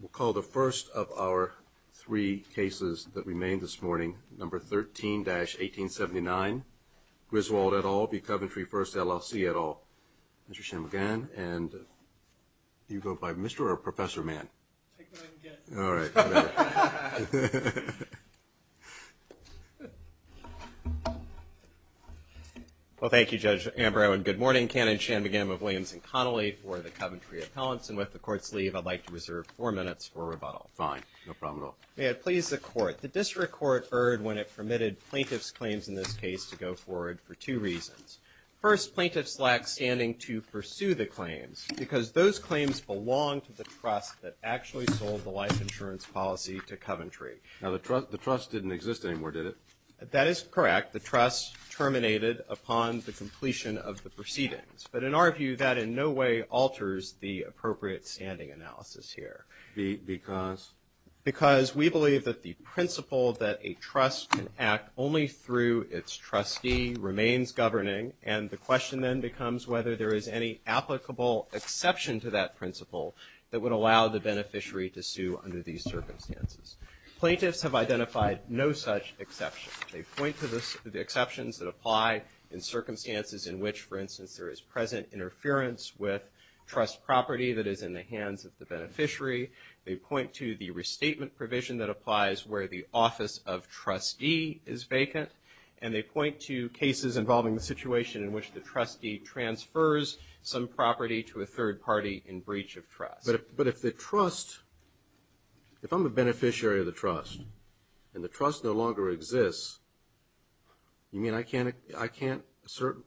We'll call the first of our three cases that we made this morning, number 13-1879, Griswold et al. v. Coventry First LLC et al. Mr. Shanmugam, and do you go by Mr. or Professor Mann? Take what I can get. All right. Well, thank you, Judge Ambrow and good morning. I'm Ken Shanmugam of Williams & Connolly for the Coventry Appellants, and with the Court's leave, I'd like to reserve four minutes for rebuttal. Fine. No problem at all. May it please the Court. The District Court erred when it permitted plaintiff's claims in this case to go forward for two reasons. First, plaintiffs lack standing to pursue the claims because those claims belong to the trust that actually sold the life insurance policy to Coventry. Now, the trust didn't exist anymore, did it? That is correct. The trust terminated upon the completion of the proceedings. But in our view, that in no way alters the appropriate standing analysis here. Because? Because we believe that the principle that a trust can act only through its trustee remains governing, and the question then becomes whether there is any applicable exception to that principle that would allow the beneficiary to sue under these circumstances. Plaintiffs have identified no such exception. They point to the exceptions that apply in circumstances in which, for instance, there is present interference with trust property that is in the hands of the beneficiary. They point to the restatement provision that applies where the office of trustee is vacant, and they point to cases involving the situation in which the trustee transfers some property to a third party in breach of trust. But if the trust, if I'm a beneficiary of the trust and the trust no longer exists, you mean I can't assert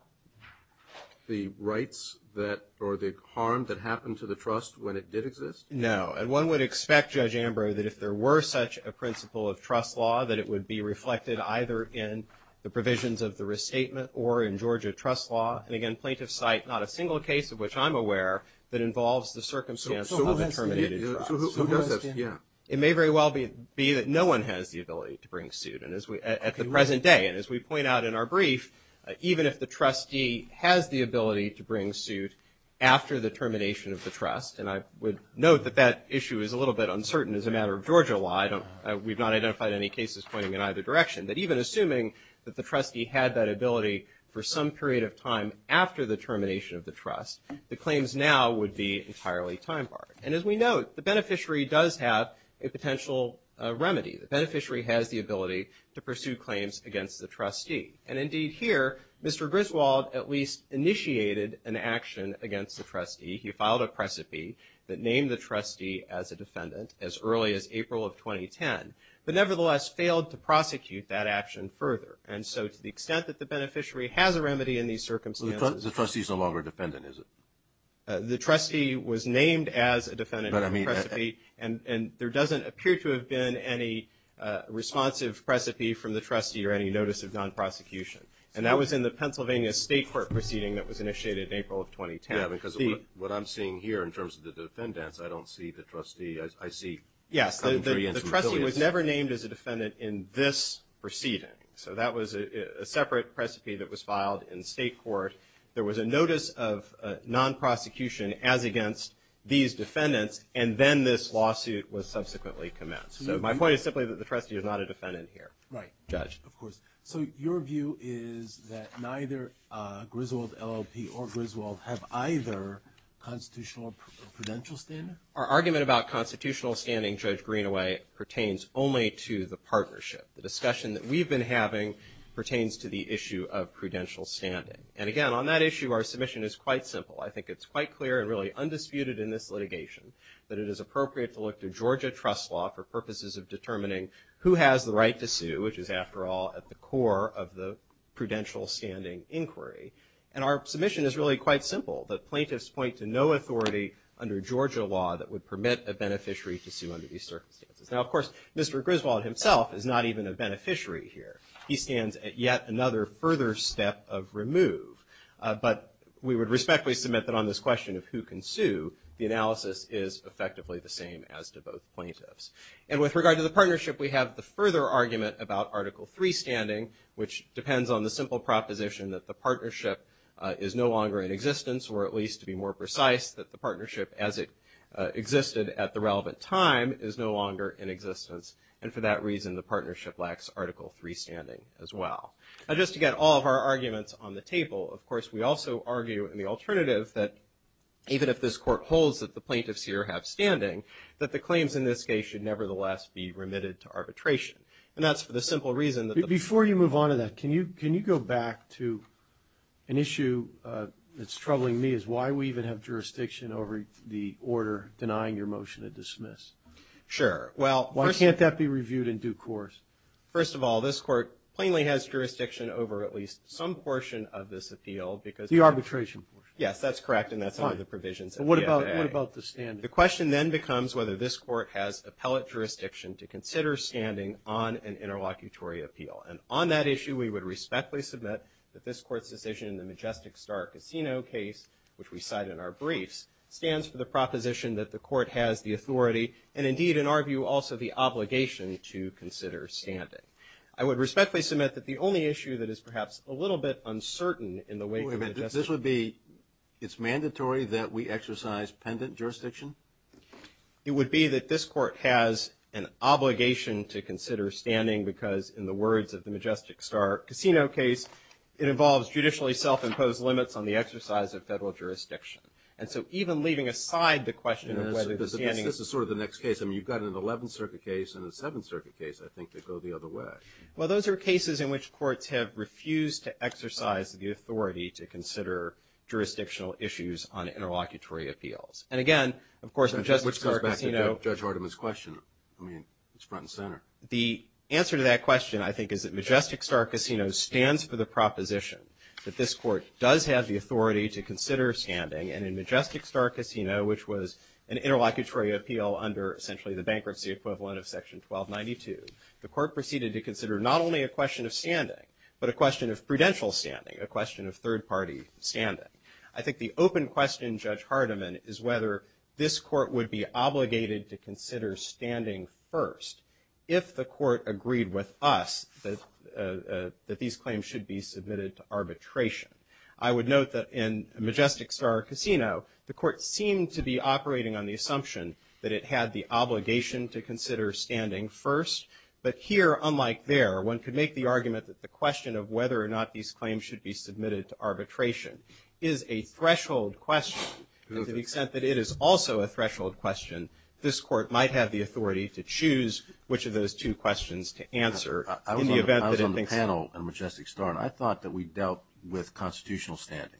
the rights that or the harm that happened to the trust when it did exist? No. And one would expect, Judge Ambrose, that if there were such a principle of trust law, that it would be reflected either in the provisions of the restatement or in Georgia trust law. And, again, plaintiffs cite not a single case of which I'm aware that involves the circumstance of a terminated trust. So who does this? It may very well be that no one has the ability to bring suit at the present day. And as we point out in our brief, even if the trustee has the ability to bring suit after the termination of the trust, and I would note that that issue is a little bit uncertain as a matter of Georgia law. We've not identified any cases pointing in either direction. But even assuming that the trustee had that ability for some period of time after the termination of the trust, the claims now would be entirely time barred. And as we note, the beneficiary does have a potential remedy. The beneficiary has the ability to pursue claims against the trustee. And, indeed, here Mr. Griswold at least initiated an action against the trustee. He filed a precipi that named the trustee as a defendant as early as April of 2010, but nevertheless failed to prosecute that action further. And so to the extent that the beneficiary has a remedy in these circumstances. The trustee is no longer a defendant, is it? The trustee was named as a defendant in the precipi, and there doesn't appear to have been any responsive precipi from the trustee or any notice of non-prosecution. And that was in the Pennsylvania State Court proceeding that was initiated in April of 2010. Yeah, because what I'm seeing here in terms of the defendants, I don't see the trustee. Yes, the trustee was never named as a defendant in this proceeding. So that was a separate precipi that was filed in state court. There was a notice of non-prosecution as against these defendants, and then this lawsuit was subsequently commenced. So my point is simply that the trustee is not a defendant here. Right. Judge. Of course. So your view is that neither Griswold, LLP, or Griswold have either constitutional or prudential standing? Our argument about constitutional standing, Judge Greenaway, pertains only to the partnership. The discussion that we've been having pertains to the issue of prudential standing. And again, on that issue, our submission is quite simple. I think it's quite clear and really undisputed in this litigation that it is appropriate to look to Georgia trust law for purposes of determining who has the right to sue, which is, after all, at the core of the prudential standing inquiry. And our submission is really quite simple. The plaintiffs point to no authority under Georgia law that would permit a beneficiary to sue under these circumstances. Now, of course, Mr. Griswold himself is not even a beneficiary here. He stands at yet another further step of remove. But we would respectfully submit that on this question of who can sue, the analysis is effectively the same as to both plaintiffs. And with regard to the partnership, we have the further argument about Article III standing, which depends on the simple proposition that the partnership is no longer in existence, or at least, to be more precise, that the partnership as it existed at the relevant time is no longer in existence. And for that reason, the partnership lacks Article III standing as well. Now, just to get all of our arguments on the table, of course, we also argue in the alternative that even if this court holds that the plaintiffs here have standing, that the claims in this case should nevertheless be remitted to arbitration. And that's for the simple reason that the – Before you move on to that, can you go back to an issue that's troubling me, is why we even have jurisdiction over the order denying your motion to dismiss? Sure. Well, first – Why can't that be reviewed in due course? First of all, this court plainly has jurisdiction over at least some portion of this appeal because – The arbitration portion. Yes, that's correct, and that's one of the provisions of the FAA. Fine. And what about the standing? And on that issue, we would respectfully submit that this court's decision in the Majestic Star Casino case, which we cite in our briefs, stands for the proposition that the court has the authority, and indeed, in our view, also the obligation to consider standing. I would respectfully submit that the only issue that is perhaps a little bit uncertain in the way – Wait a minute. This would be – it's mandatory that we exercise pendant jurisdiction? It would be that this court has an obligation to consider standing because, in the words of the Majestic Star Casino case, it involves judicially self-imposed limits on the exercise of federal jurisdiction. And so even leaving aside the question of whether the standing – This is sort of the next case. I mean, you've got an 11th Circuit case and a 7th Circuit case, I think, that go the other way. Well, those are cases in which courts have refused to exercise the authority to consider jurisdictional issues on interlocutory appeals. And again, of course, Majestic Star Casino – Which goes back to Judge Hardiman's question. I mean, it's front and center. The answer to that question, I think, is that Majestic Star Casino stands for the proposition that this court does have the authority to consider standing. And in Majestic Star Casino, which was an interlocutory appeal under, essentially, the bankruptcy equivalent of Section 1292, the court proceeded to consider not only a question of standing, but a question of prudential standing, a question of third-party standing. I think the open question, Judge Hardiman, is whether this court would be obligated to consider standing first if the court agreed with us that these claims should be submitted to arbitration. I would note that in Majestic Star Casino, the court seemed to be operating on the assumption that it had the obligation to consider standing first. But here, unlike there, one could make the argument that the question of whether or not these claims should be submitted to arbitration is a threshold question to the extent that it is also a threshold question. This court might have the authority to choose which of those two questions to answer. I was on the panel in Majestic Star, and I thought that we dealt with constitutional standing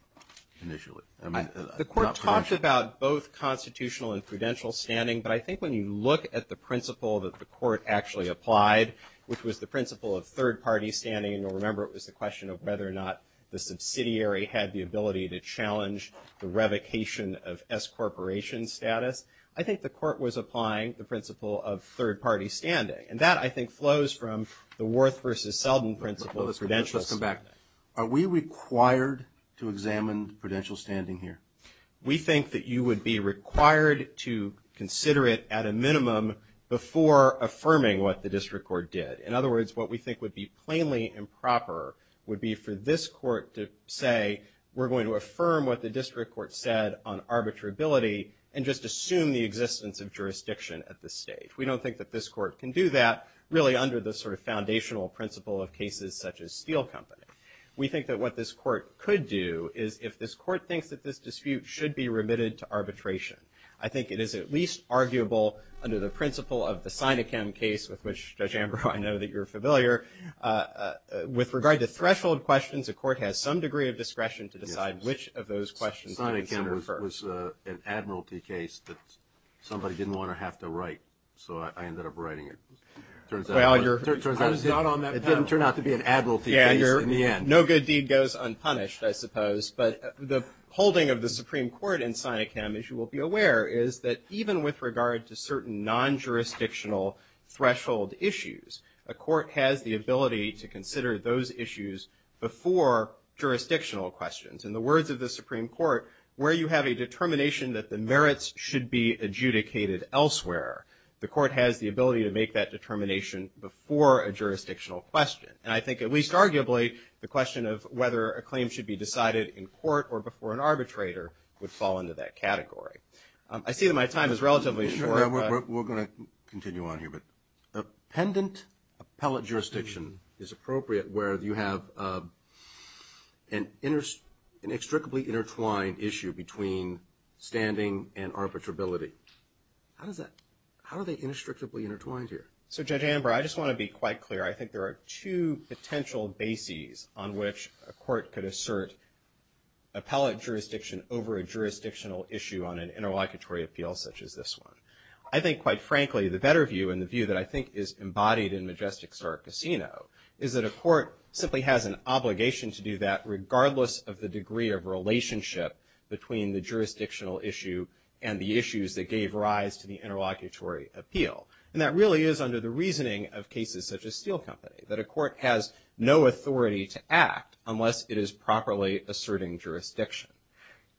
initially. I mean, not prudential. The court talked about both constitutional and prudential standing, but I think when you look at the principle that the court actually applied, which was the principle of third-party standing, and you'll remember it was the question of whether or not the subsidiary had the ability to challenge the revocation of S Corporation status, I think the court was applying the principle of third-party standing. And that, I think, flows from the Worth v. Selden principle of prudential standing. Let's come back. Are we required to examine prudential standing here? We think that you would be required to consider it at a minimum before affirming what the district court did. In other words, what we think would be plainly improper would be for this court to say, we're going to affirm what the district court said on arbitrability and just assume the existence of jurisdiction at this stage. We don't think that this court can do that, really under the sort of foundational principle of cases such as Steele Company. We think that what this court could do is, if this court thinks that this dispute should be remitted to arbitration, I think it is at least arguable under the principle of the Sinachem case, with which, Judge Ambrose, I know that you're familiar. With regard to threshold questions, a court has some degree of discretion to decide which of those questions to consider first. Sinachem was an admiralty case that somebody didn't want to have to write, so I ended up writing it. Turns out it was not on that panel. It didn't turn out to be an admiralty case in the end. No good deed goes unpunished, I suppose. I think what's important to bear is that, even with regard to certain non-jurisdictional threshold issues, a court has the ability to consider those issues before jurisdictional questions. In the words of the Supreme Court, where you have a determination that the merits should be adjudicated elsewhere, the court has the ability to make that determination before a jurisdictional question. And I think, at least arguably, the question of whether a claim should be decided in court or before an arbitrator would fall into that category. I see that my time is relatively short. We're going to continue on here. A pendant appellate jurisdiction is appropriate where you have an inextricably intertwined issue between standing and arbitrability. How are they inextricably intertwined here? So, Judge Amber, I just want to be quite clear. I think there are two potential bases on which a court could assert appellate jurisdiction over a jurisdictional issue on an interlocutory appeal such as this one. I think, quite frankly, the better view, and the view that I think is embodied in Majestic Star Casino, is that a court simply has an obligation to do that, regardless of the degree of relationship between the jurisdictional issue and the issues that gave rise to the interlocutory appeal. And that really is under the reasoning of cases such as Steel Company, that a court has no authority to act unless it is properly asserting jurisdiction.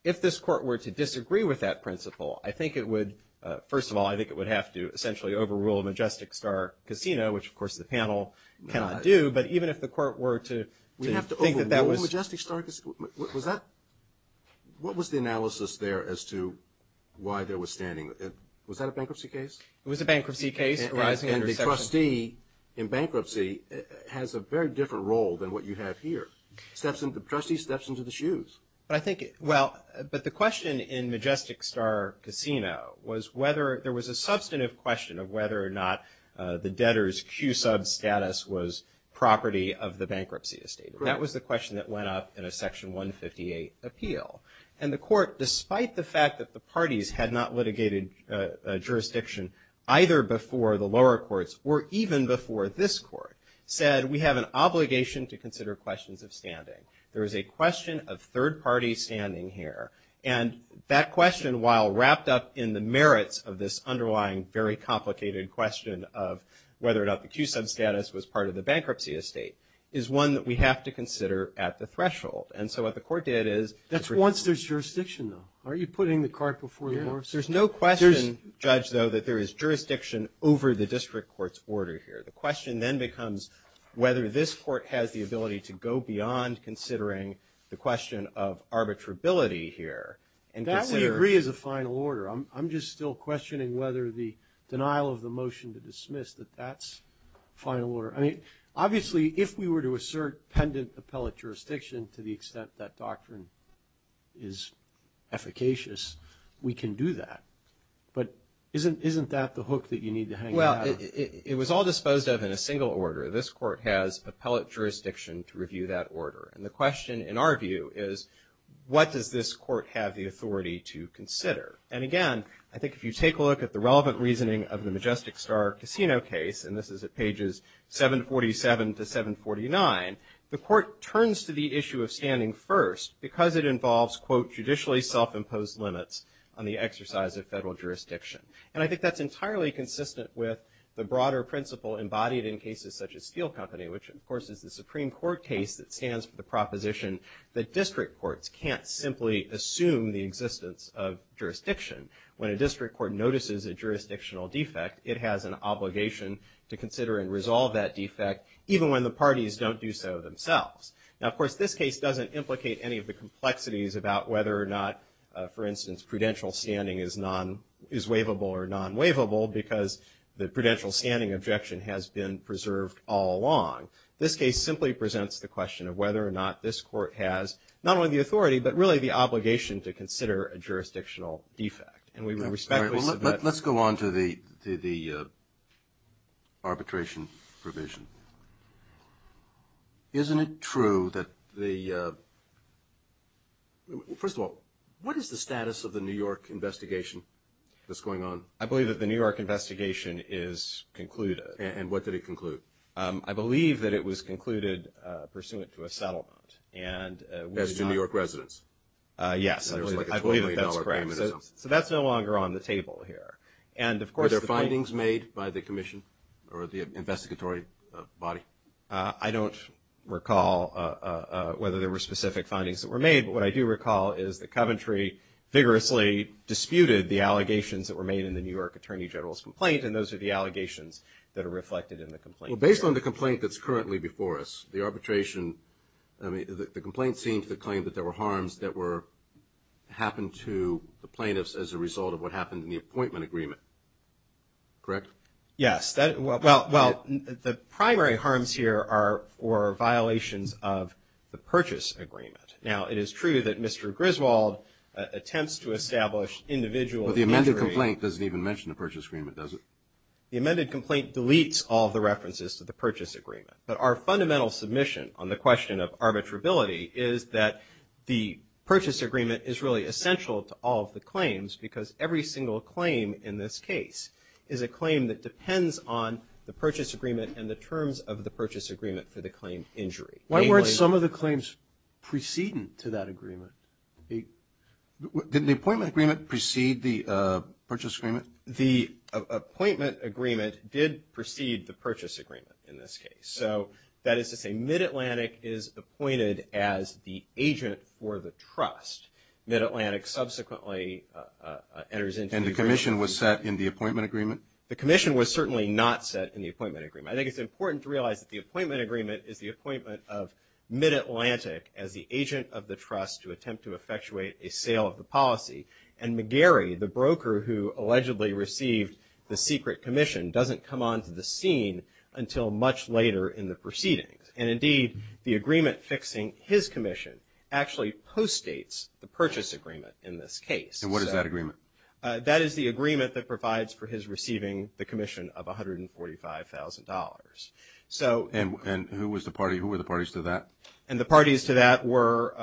If this court were to disagree with that principle, I think it would, first of all, I think it would have to essentially overrule Majestic Star Casino, which, of course, the panel cannot do. But even if the court were to think that that was... We have to overrule Majestic Star Casino? What was the analysis there as to why there was standing? Was that a bankruptcy case? It was a bankruptcy case. And the trustee in bankruptcy has a very different role than what you have here. The trustee steps into the shoes. Well, but the question in Majestic Star Casino was whether... There was a substantive question of whether or not the debtor's Q-sub status was property of the bankruptcy estate. That was the question that went up in a Section 158 appeal. And the court, despite the fact that the parties had not litigated jurisdiction either before the lower courts or even before this court, said we have an obligation to consider questions of standing. There is a question of third party standing here. And that question, while wrapped up in the merits of this underlying, very complicated question of whether or not the Q-sub status was part of the bankruptcy estate, is one that we have to consider at the threshold. And so what the court did is... That's once there's jurisdiction, though. Aren't you putting the cart before the horse? There's no question, Judge, though, that there is jurisdiction over the district court's order here. The question then becomes whether this court has the ability to go beyond considering the question of arbitrability here and consider... That we agree is a final order. I'm just still questioning whether the denial of the motion to dismiss that that's final order. I mean, obviously, if we were to assert pendant appellate jurisdiction to the But isn't that the hook that you need to hang on? Well, it was all disposed of in a single order. This court has appellate jurisdiction to review that order. And the question, in our view, is what does this court have the authority to consider? And, again, I think if you take a look at the relevant reasoning of the Majestic Star Casino case, and this is at pages 747 to 749, the court turns to the issue of standing first because it involves, quote, limits on the exercise of federal jurisdiction. And I think that's entirely consistent with the broader principle embodied in cases such as Steel Company, which, of course, is the Supreme Court case that stands for the proposition that district courts can't simply assume the existence of jurisdiction. When a district court notices a jurisdictional defect, it has an obligation to consider and resolve that defect, even when the parties don't do so themselves. Now, of course, this case doesn't implicate any of the complexities about whether or not, for instance, prudential standing is non-waivable or non-waivable because the prudential standing objection has been preserved all along. This case simply presents the question of whether or not this court has not only the authority but really the obligation to consider a jurisdictional defect. And we respectfully submit. Let's go on to the arbitration provision. Isn't it true that the – first of all, what is the status of the New York investigation that's going on? I believe that the New York investigation is concluded. And what did it conclude? I believe that it was concluded pursuant to a settlement. As to New York residents? Yes. I believe that that's correct. So that's no longer on the table here. And, of course, were there findings made by the commission or the investigatory body? I don't recall whether there were specific findings that were made. What I do recall is that Coventry vigorously disputed the allegations that were made in the New York Attorney General's complaint, and those are the allegations that are reflected in the complaint. Well, based on the complaint that's currently before us, the arbitration – I mean, the complaint seemed to claim that there were harms that were – happened to the plaintiffs as a result of what happened in the appointment agreement. Correct? Yes. Well, the primary harms here are violations of the purchase agreement. Now, it is true that Mr. Griswold attempts to establish individual entry. Well, the amended complaint doesn't even mention the purchase agreement, does it? The amended complaint deletes all the references to the purchase agreement. But our fundamental submission on the question of arbitrability is that the claims because every single claim in this case is a claim that depends on the purchase agreement and the terms of the purchase agreement for the claim injury. Why weren't some of the claims preceding to that agreement? Didn't the appointment agreement precede the purchase agreement? The appointment agreement did precede the purchase agreement in this case. So that is to say Mid-Atlantic is appointed as the agent for the trust. Mid-Atlantic subsequently enters into the agreement. And the commission was set in the appointment agreement? The commission was certainly not set in the appointment agreement. I think it's important to realize that the appointment agreement is the appointment of Mid-Atlantic as the agent of the trust to attempt to effectuate a sale of the policy. And McGarry, the broker who allegedly received the secret commission, doesn't come onto the scene until much later in the proceedings. And, indeed, the agreement fixing his commission actually postdates the purchase agreement in this case. And what is that agreement? That is the agreement that provides for his receiving the commission of $145,000. And who were the parties to that? And the parties to that were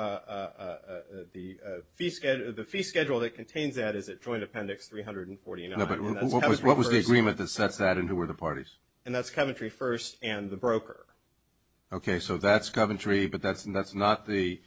the fee schedule that contains that is at Joint Appendix 349. No, but what was the agreement that sets that and who were the parties? And that's Coventry First and the broker. Okay, so that's Coventry, but that's not the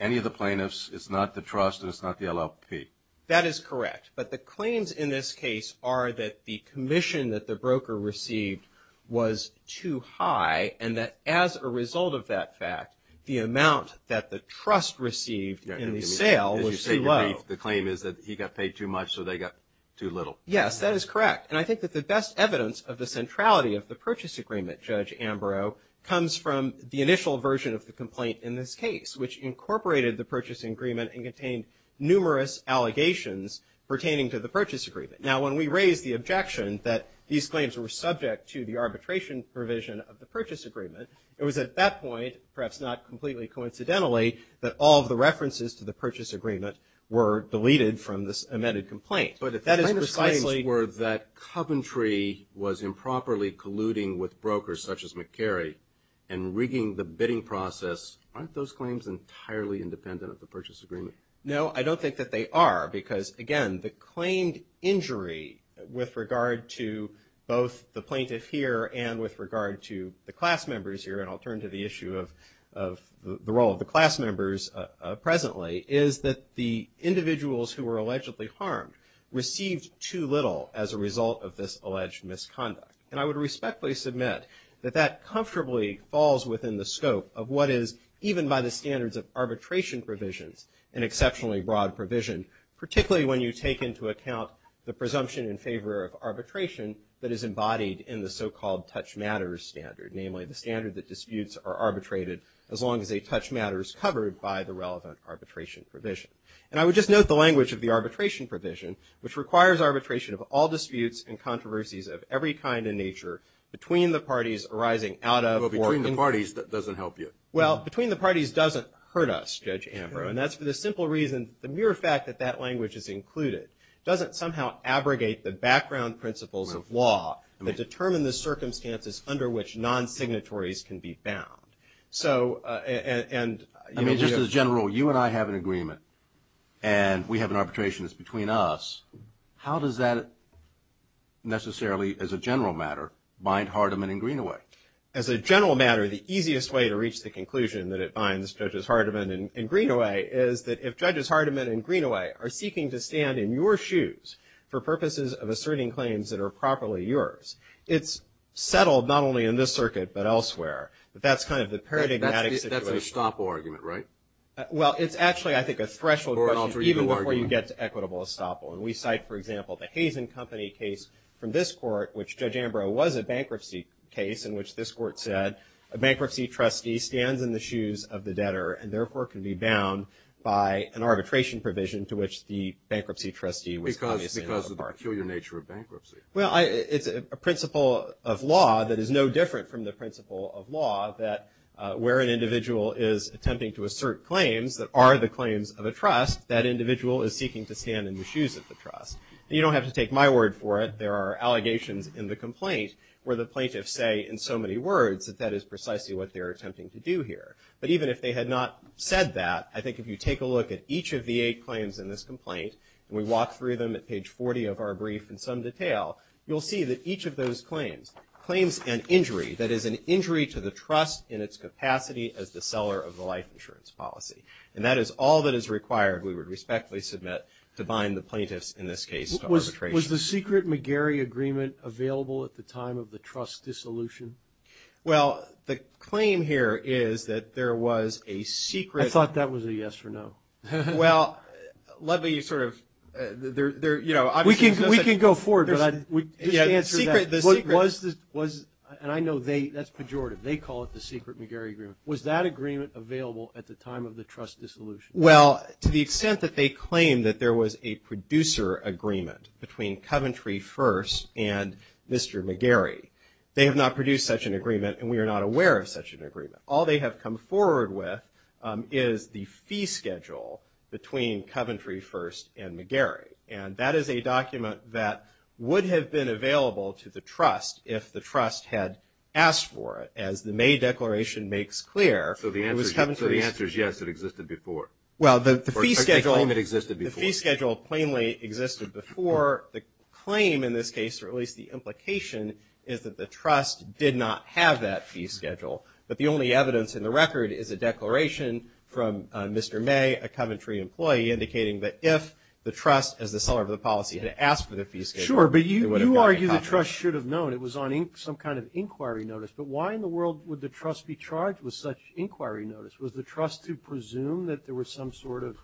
any of the plaintiffs, it's not the trust, and it's not the LLP. That is correct. But the claims in this case are that the commission that the broker received was too high, and that as a result of that fact, the amount that the trust received in the sale was too low. As you say, the claim is that he got paid too much so they got too little. Yes, that is correct. And I think that the best evidence of the centrality of the purchase agreement, Judge Ambrose, comes from the initial version of the complaint in this case, which incorporated the purchase agreement and contained numerous allegations pertaining to the purchase agreement. Now, when we raised the objection that these claims were subject to the arbitration provision of the purchase agreement, it was at that point, perhaps not completely coincidentally, that all of the references to the purchase agreement were deleted from this amended complaint. Right. But if the claims were that Coventry was improperly colluding with brokers such as McCary and rigging the bidding process, aren't those claims entirely independent of the purchase agreement? No, I don't think that they are because, again, the claimed injury with regard to both the plaintiff here and with regard to the class members here, and I'll turn to the issue of the role of the class members presently, is that the individuals who were allegedly harmed received too little as a result of this alleged misconduct. And I would respectfully submit that that comfortably falls within the scope of what is, even by the standards of arbitration provisions, an exceptionally broad provision, particularly when you take into account the presumption in favor of arbitration that is embodied in the so-called touch matters standard, namely the standard that disputes are arbitrated as long as a touch matter is implied by the relevant arbitration provision. And I would just note the language of the arbitration provision, which requires arbitration of all disputes and controversies of every kind in nature between the parties arising out of or in. Well, between the parties, that doesn't help you. Well, between the parties doesn't hurt us, Judge Ambrose, and that's for the simple reason, the mere fact that that language is included doesn't somehow abrogate the background principles of law that determine the circumstances under which non-signatories can be found. I mean, just as a general rule, you and I have an agreement and we have an arbitration that's between us. How does that necessarily, as a general matter, bind Hardiman and Greenaway? As a general matter, the easiest way to reach the conclusion that it binds Judges Hardiman and Greenaway is that if Judges Hardiman and Greenaway are seeking to stand in your shoes for purposes of asserting claims that are properly yours, it's settled not only in this circuit but elsewhere. But that's kind of the paradigmatic situation. That's an estoppel argument, right? Well, it's actually, I think, a threshold question even before you get to equitable estoppel. And we cite, for example, the Hazen Company case from this court, which Judge Ambrose was a bankruptcy case in which this court said, a bankruptcy trustee stands in the shoes of the debtor and, therefore, can be bound by an arbitration provision to which the bankruptcy trustee was obviously not a part of. Because of the peculiar nature of bankruptcy. Well, it's a principle of law that is no different from the principle of law that where an individual is attempting to assert claims that are the claims of a trust, that individual is seeking to stand in the shoes of the trust. And you don't have to take my word for it. There are allegations in the complaint where the plaintiffs say in so many words that that is precisely what they're attempting to do here. But even if they had not said that, I think if you take a look at each of the eight claims in this complaint, and we walk through them at page 40 of our brief in some detail, you'll see that each of those claims, claims and injury, that is an injury to the trust in its capacity as the seller of the life insurance policy. And that is all that is required, we would respectfully submit, to bind the plaintiffs in this case to arbitration. Was the secret McGarry agreement available at the time of the trust dissolution? Well, the claim here is that there was a secret. I thought that was a yes or no. Well, let me sort of, you know. We can go forward, but just answer that. The secret. And I know that's pejorative. They call it the secret McGarry agreement. Was that agreement available at the time of the trust dissolution? Well, to the extent that they claim that there was a producer agreement between Coventry First and Mr. McGarry, and we are not aware of such an agreement. All they have come forward with is the fee schedule between Coventry First and McGarry. And that is a document that would have been available to the trust if the trust had asked for it, as the May declaration makes clear. So the answer is yes, it existed before. Well, the fee schedule plainly existed before. The claim in this case, or at least the implication, is that the trust did not have that fee schedule. But the only evidence in the record is a declaration from Mr. May, a Coventry employee, indicating that if the trust, as the seller of the policy, had asked for the fee schedule, it would have gotten accomplished. Sure, but you argue the trust should have known. It was on some kind of inquiry notice. But why in the world would the trust be charged with such inquiry notice? Was the trust to presume that there was some sort of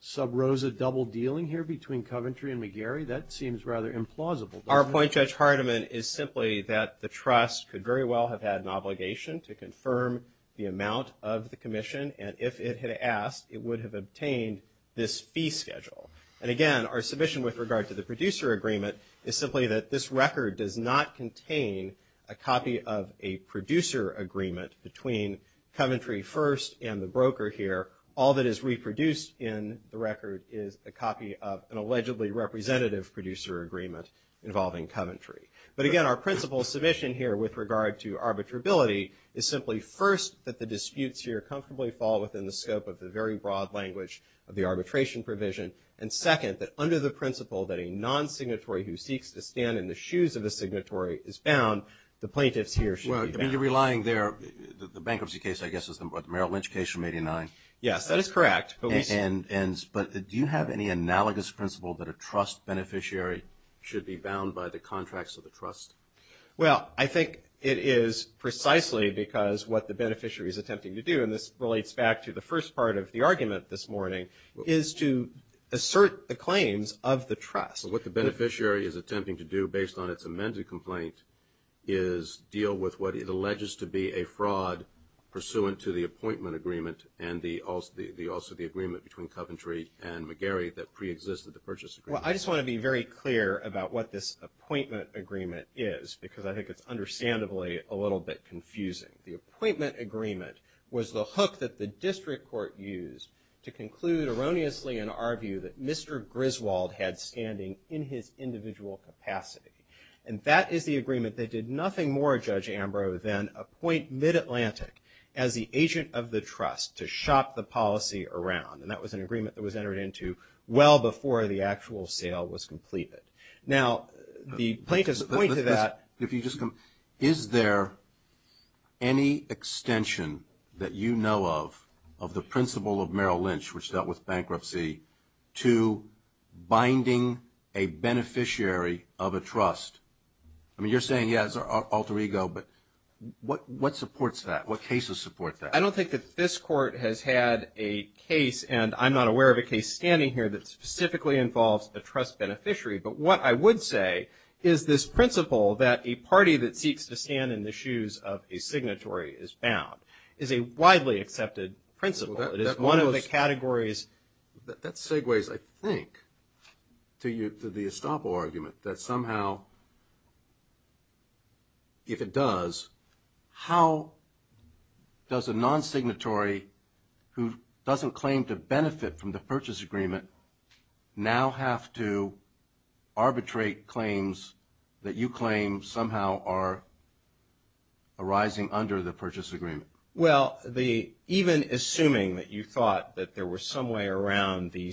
sub rosa double dealing here between Coventry and McGarry? That seems rather implausible. Our point, Judge Hardiman, is simply that the trust could very well have had an obligation to confirm the amount of the commission. And if it had asked, it would have obtained this fee schedule. And again, our submission with regard to the producer agreement is simply that this record does not contain a copy of a producer agreement between Coventry First and the broker here. All that is reproduced in the record is a copy of an allegedly representative producer agreement involving Coventry. But again, our principle submission here with regard to arbitrability is simply, first, that the disputes here comfortably fall within the scope of the very broad language of the arbitration provision. And second, that under the principle that a non-signatory who seeks to stand in the shoes of the signatory is bound, the plaintiffs here should be bound. You're relying there, the bankruptcy case, I guess, is the Merrill Lynch case from 89. Yes, that is correct. But do you have any analogous principle that a trust beneficiary should be bound to the trust? Well, I think it is precisely because what the beneficiary is attempting to do, and this relates back to the first part of the argument this morning, is to assert the claims of the trust. What the beneficiary is attempting to do, based on its amended complaint, is deal with what it alleges to be a fraud pursuant to the appointment agreement and also the agreement between Coventry and McGarry that preexisted the purchase agreement. Well, I just want to be very clear about what this appointment agreement is because I think it's understandably a little bit confusing. The appointment agreement was the hook that the district court used to conclude erroneously in our view that Mr. Griswold had standing in his individual capacity. And that is the agreement that did nothing more, Judge Ambrose, than appoint Mid-Atlantic as the agent of the trust to shop the policy around. And that was an agreement that was entered into well before the actual sale was completed. Now, the plaintiff's point to that. If you just come. Is there any extension that you know of, of the principle of Merrill Lynch, which dealt with bankruptcy to binding a beneficiary of a trust? I mean, you're saying, yeah, it's our alter ego, but what supports that? What cases support that? I don't think that this court has had a case, and I'm not aware of a case standing here, that specifically involves a trust beneficiary. But what I would say is this principle, that a party that seeks to stand in the shoes of a signatory is bound, is a widely accepted principle. It is one of the categories. That segues, I think, to the estoppel argument, that somehow, if it does, how does a non-signatory who doesn't claim to benefit from the purchase agreement now have to arbitrate claims that you claim somehow are arising under the purchase agreement? Well, even assuming that you thought that there was some way around the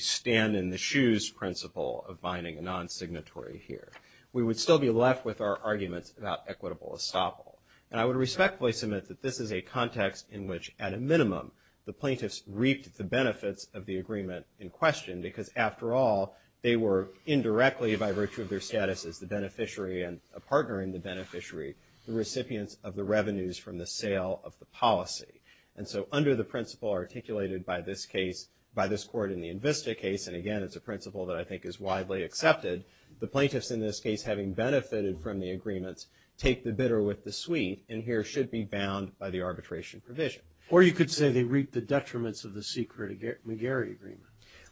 principle of binding a non-signatory here, we would still be left with our arguments about equitable estoppel. And I would respectfully submit that this is a context in which, at a minimum, the plaintiffs reaped the benefits of the agreement in question, because after all, they were indirectly, by virtue of their status as the beneficiary and a partner in the beneficiary, the recipients of the revenues from the sale of the policy. And so under the principle articulated by this case, and again, it's a principle that I think is widely accepted, the plaintiffs in this case, having benefited from the agreements, take the bidder with the suite and here should be bound by the arbitration provision. Or you could say they reaped the detriments of the secret McGarry agreement.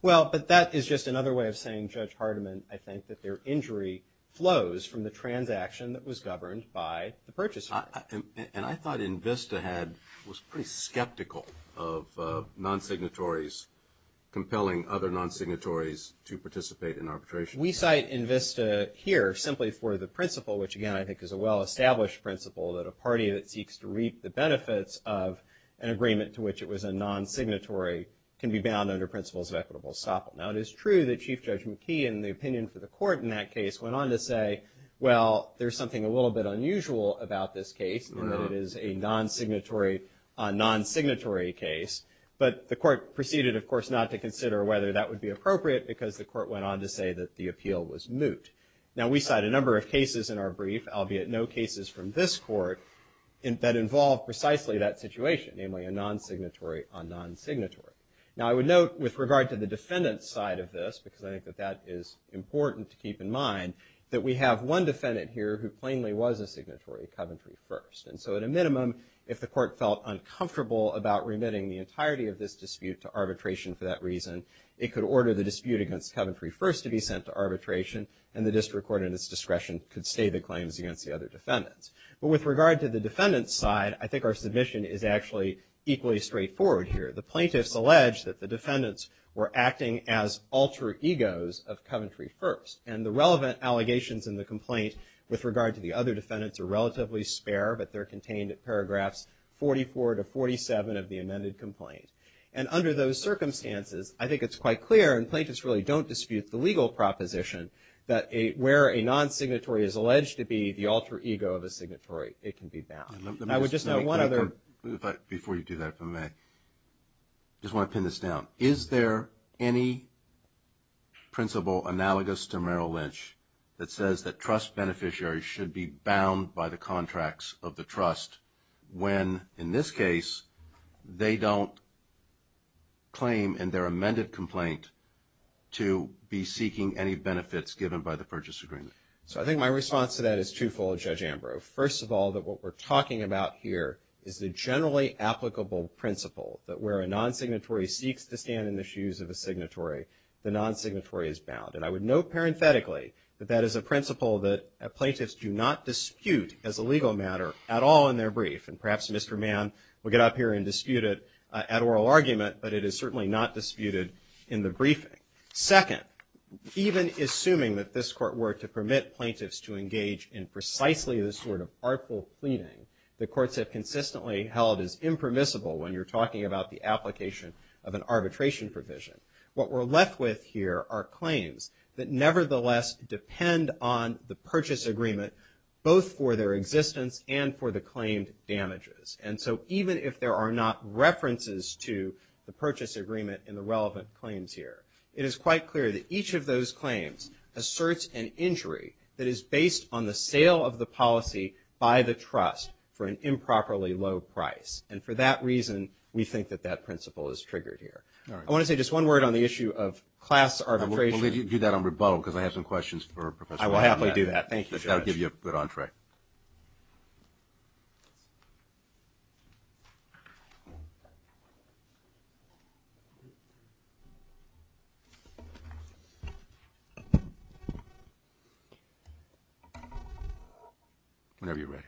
Well, but that is just another way of saying, Judge Hardiman, I think that their injury flows from the transaction that was governed by the purchase agreement. And I thought INVISTA was pretty skeptical of non-signatories compelling other non-signatories to participate in arbitration. We cite INVISTA here simply for the principle, which, again, I think is a well-established principle, that a party that seeks to reap the benefits of an agreement to which it was a non-signatory can be bound under principles of equitable estoppel. Now, it is true that Chief Judge McKee, in the opinion for the court in that case, went on to say, well, there's something a little bit unusual about this case, in that it is a non-signatory case. But the court proceeded, of course, not to consider whether that would be appropriate, because the court went on to say that the appeal was moot. Now, we cite a number of cases in our brief, albeit no cases from this court, that involve precisely that situation, namely a non-signatory on non-signatory. Now, I would note, with regard to the defendant's side of this, because I think that that is important to keep in mind, that we have one defendant here who plainly was a signatory, Coventry First. And so at a minimum, if the court felt uncomfortable about remitting the entirety of this dispute to arbitration for that reason, it could order the dispute against Coventry First to be sent to arbitration, and the district court, in its discretion, could stay the claims against the other defendants. But with regard to the defendant's side, I think our submission is actually equally straightforward here. The plaintiffs allege that the defendants were acting as alter egos of Coventry First. And the relevant allegations in the complaint, with regard to the other defendants, are relatively spare, but they're contained at paragraphs 44 to 47 of the amended complaint. And under those circumstances, I think it's quite clear, and plaintiffs really don't dispute the legal proposition, that where a non-signatory is alleged to be the alter ego of a signatory, it can be bound. And I would just add one other. Before you do that, if I may, I just want to pin this down. Is there any principle analogous to Merrill Lynch that says that trust when, in this case, they don't claim in their amended complaint to be seeking any benefits given by the purchase agreement? So I think my response to that is twofold, Judge Ambrose. First of all, that what we're talking about here is the generally applicable principle, that where a non-signatory seeks to stand in the shoes of a signatory, the non-signatory is bound. And I would note, parenthetically, that that is a principle that is not at all in their brief. And perhaps Mr. Mann will get up here and dispute it at oral argument, but it is certainly not disputed in the briefing. Second, even assuming that this Court were to permit plaintiffs to engage in precisely this sort of artful pleading that courts have consistently held as impermissible when you're talking about the application of an arbitration provision, what we're left with here are claims that nevertheless depend on the purchase agreement both for their existence and for the claimed damages. And so even if there are not references to the purchase agreement in the relevant claims here, it is quite clear that each of those claims asserts an injury that is based on the sale of the policy by the trust for an improperly low price. And for that reason, we think that that principle is triggered here. All right. I want to say just one word on the issue of class arbitration. We'll leave you to do that on rebuttal because I have some questions for Professor Mann. I will happily do that. Thank you, Judge. That would give you a good entree. Whenever you're ready.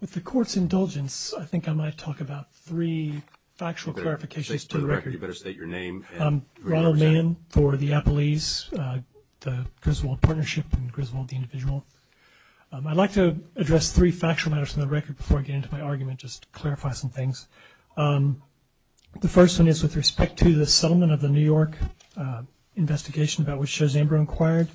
With the Court's indulgence, I think I might talk about three factual clarifications to the record. You better state your name and who you represent. Ronald Mann for the Appellees, the Griswold Partnership and Griswold, the individual. I'd like to address three factual matters from the record before I get into my argument just to clarify some things. The first one is with respect to the settlement of the New York investigation about which Chazambra inquired.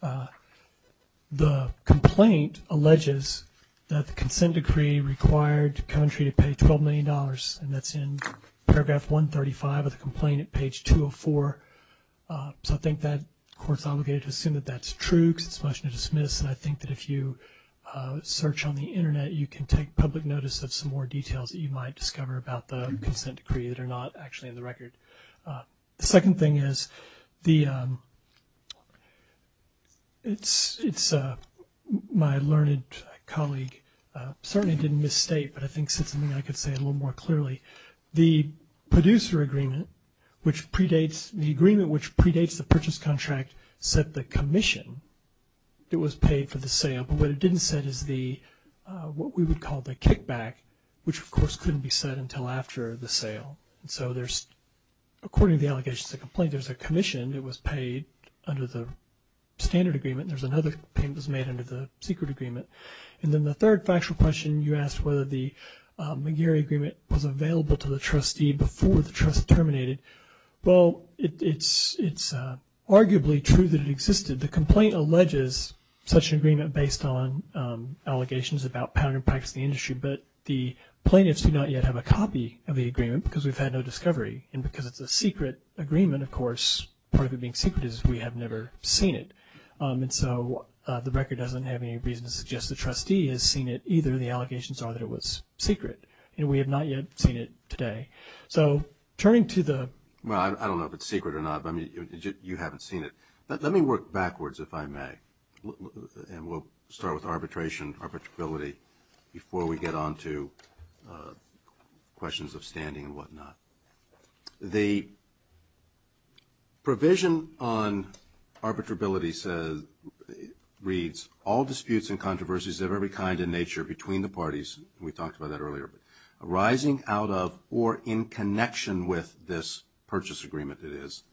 The complaint alleges that the consent decree required Coventry to pay $12 million, and that's in paragraph 135 of the complaint at page 204. I think that the Court's obligated to assume that that's true because it's much to dismiss, and I think that if you search on the Internet, you can take public notice of some more details that you might discover about the consent decree that are not actually in the record. The second thing is my learned colleague certainly didn't misstate, but I think said something I could say a little more clearly. The producer agreement which predates the agreement which predates the purchase contract set the commission that was paid for the sale, but what it didn't set is what we would call the kickback, which of course couldn't be set until after the sale. So there's, according to the allegations of the complaint, there's a commission that was paid under the standard agreement, and there's another payment that was made under the secret agreement. And then the third factual question, you asked whether the McGarry agreement was available to the trustee before the trust terminated. Well, it's arguably true that it existed. The complaint alleges such an agreement based on allegations about pattern and practice in the industry, but the plaintiffs do not yet have a copy of the agreement because we've had no discovery, and because it's a secret agreement, of course, part of it being secret is we have never seen it. And so the record doesn't have any reason to suggest the trustee has seen it either, the allegations are that it was secret, and we have not yet seen it today. So turning to the- Well, I don't know if it's secret or not, but you haven't seen it. Let me work backwards, if I may, and we'll start with arbitration, arbitrability, before we get on to questions of standing and whatnot. The provision on arbitrability reads, all disputes and controversies of every kind and nature between the parties, and we talked about that earlier, arising out of or in connection with this purchase agreement it is,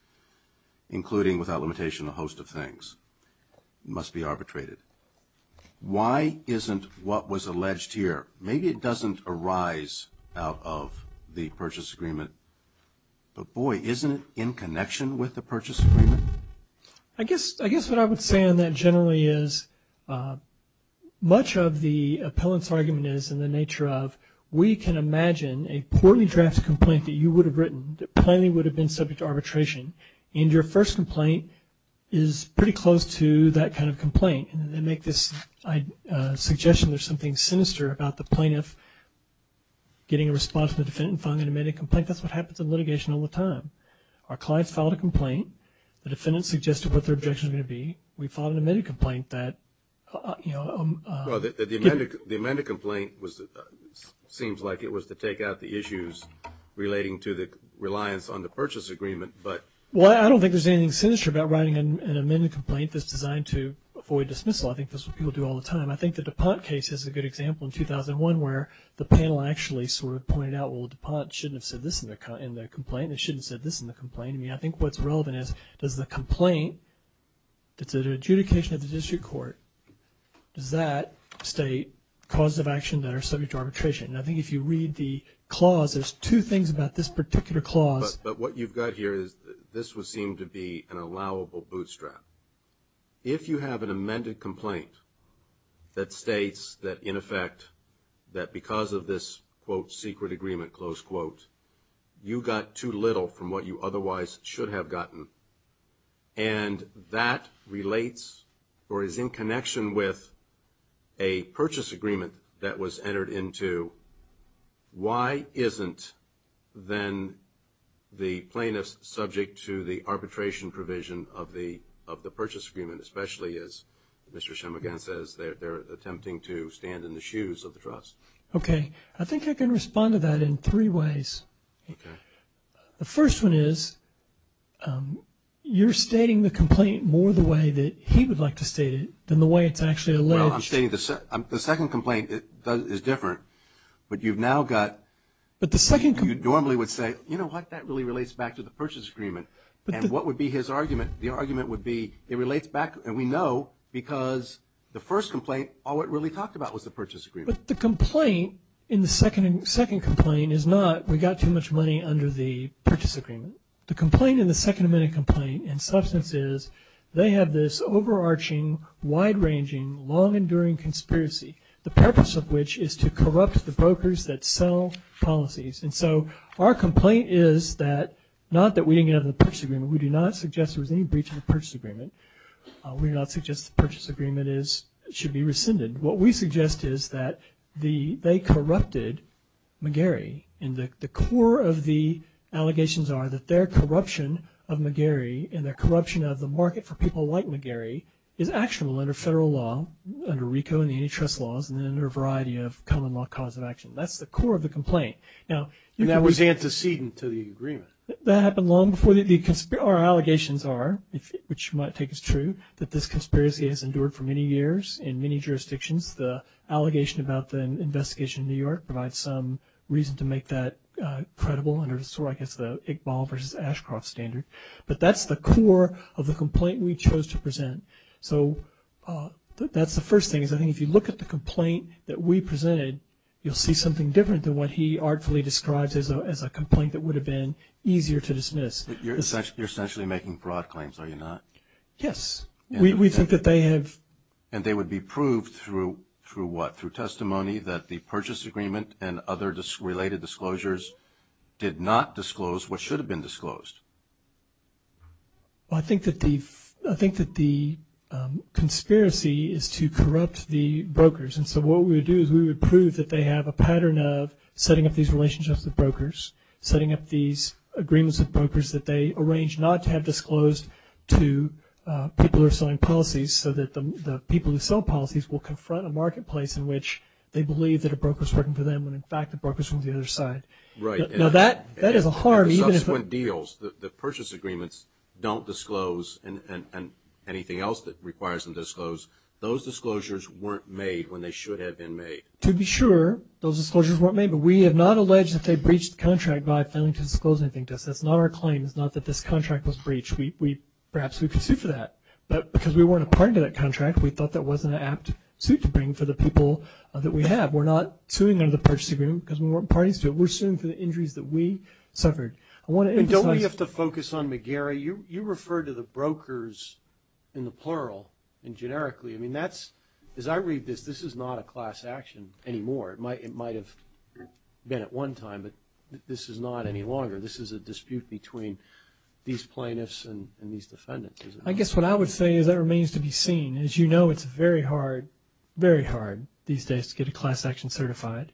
including without limitation a host of things, must be arbitrated. Why isn't what was alleged here? Maybe it doesn't arise out of the purchase agreement, but, boy, isn't it in connection with the purchase agreement? I guess what I would say on that generally is, much of the appellant's argument is in the nature of, we can imagine a poorly drafted complaint that you would have written, that plainly would have been subject to arbitration, and your first complaint is pretty close to that kind of complaint, and they make this suggestion there's something sinister about the plaintiff getting a response from the defendant and filing an amended complaint. That's what happens in litigation all the time. Our clients filed a complaint. The defendant suggested what their objection was going to be. We filed an amended complaint that, you know. Well, the amended complaint seems like it was to take out the issues relating to the reliance on the purchase agreement, but. Well, I don't think there's anything sinister about writing an amended complaint that's designed to avoid dismissal. I think that's what people do all the time. I think the DuPont case is a good example in 2001, where the panel actually sort of pointed out, well, DuPont shouldn't have said this in their complaint and shouldn't have said this in the complaint. I mean, I think what's relevant is, does the complaint that's under adjudication of the district court, does that state causes of action that are subject to arbitration? And I think if you read the clause, there's two things about this particular clause. But what you've got here is this would seem to be an allowable bootstrap. If you have an amended complaint that states that, in effect, that because of this, quote, secret agreement, close quote, you got too little from what you otherwise should have gotten, and that relates or is in connection with a purchase agreement that was entered into, why isn't then the plaintiff subject to the arbitration provision of the purchase agreement, especially as Mr. Chemeghan says, Okay. I think I can respond to that in three ways. Okay. The first one is, you're stating the complaint more the way that he would like to state it than the way it's actually alleged. Well, I'm stating the second complaint is different. But you've now got, you normally would say, you know what, that really relates back to the purchase agreement. And what would be his argument? The argument would be, it relates back, and we know, because the first complaint, all it really talked about was the purchase agreement. But the complaint in the second complaint is not, we got too much money under the purchase agreement. The complaint in the second amendment complaint in substance is, they have this overarching, wide-ranging, long-enduring conspiracy, the purpose of which is to corrupt the brokers that sell policies. And so our complaint is that, not that we didn't get out of the purchase agreement. We do not suggest there was any breach of the purchase agreement. We do not suggest the purchase agreement should be rescinded. What we suggest is that they corrupted McGarry. And the core of the allegations are that their corruption of McGarry and their corruption of the market for people like McGarry is actionable under federal law, under RICO and the antitrust laws, and under a variety of common law cause of action. That's the core of the complaint. And that was antecedent to the agreement. That happened long before. Our allegations are, which you might take as true, that this conspiracy has endured for many years in many jurisdictions. The allegation about the investigation in New York provides some reason to make that credible under sort of, I guess, the Iqbal versus Ashcroft standard. But that's the core of the complaint we chose to present. So that's the first thing, is I think if you look at the complaint that we presented, you'll see something different than what he artfully describes as a complaint that would have been easier to dismiss. You're essentially making broad claims, are you not? Yes. We think that they have. And they would be proved through what? Through testimony that the purchase agreement and other related disclosures did not disclose what should have been disclosed? Well, I think that the conspiracy is to corrupt the brokers. And so what we would do is we would prove that they have a pattern of setting up these relationships with brokers, setting up these agreements with brokers that they arranged not to have disclosed to people who are selling policies so that the people who sell policies will confront a marketplace in which they believe that a broker is working for them when, in fact, the broker is on the other side. Right. Now, that is a harm. In subsequent deals, the purchase agreements don't disclose and anything else that requires them to disclose, those disclosures weren't made when they should have been made. To be sure, those disclosures weren't made, but we have not alleged that they breached the contract by failing to disclose anything to us. That's not our claim. It's not that this contract was breached. Perhaps we could sue for that. But because we weren't a part of that contract, we thought that wasn't an apt suit to bring for the people that we have. We're not suing under the purchase agreement because we weren't parties to it. We're suing for the injuries that we suffered. Don't we have to focus on McGarry? You referred to the brokers in the plural and generically. I mean, as I read this, this is not a class action anymore. It might have been at one time, but this is not any longer. This is a dispute between these plaintiffs and these defendants. I guess what I would say is that remains to be seen. As you know, it's very hard, very hard these days to get a class action certified.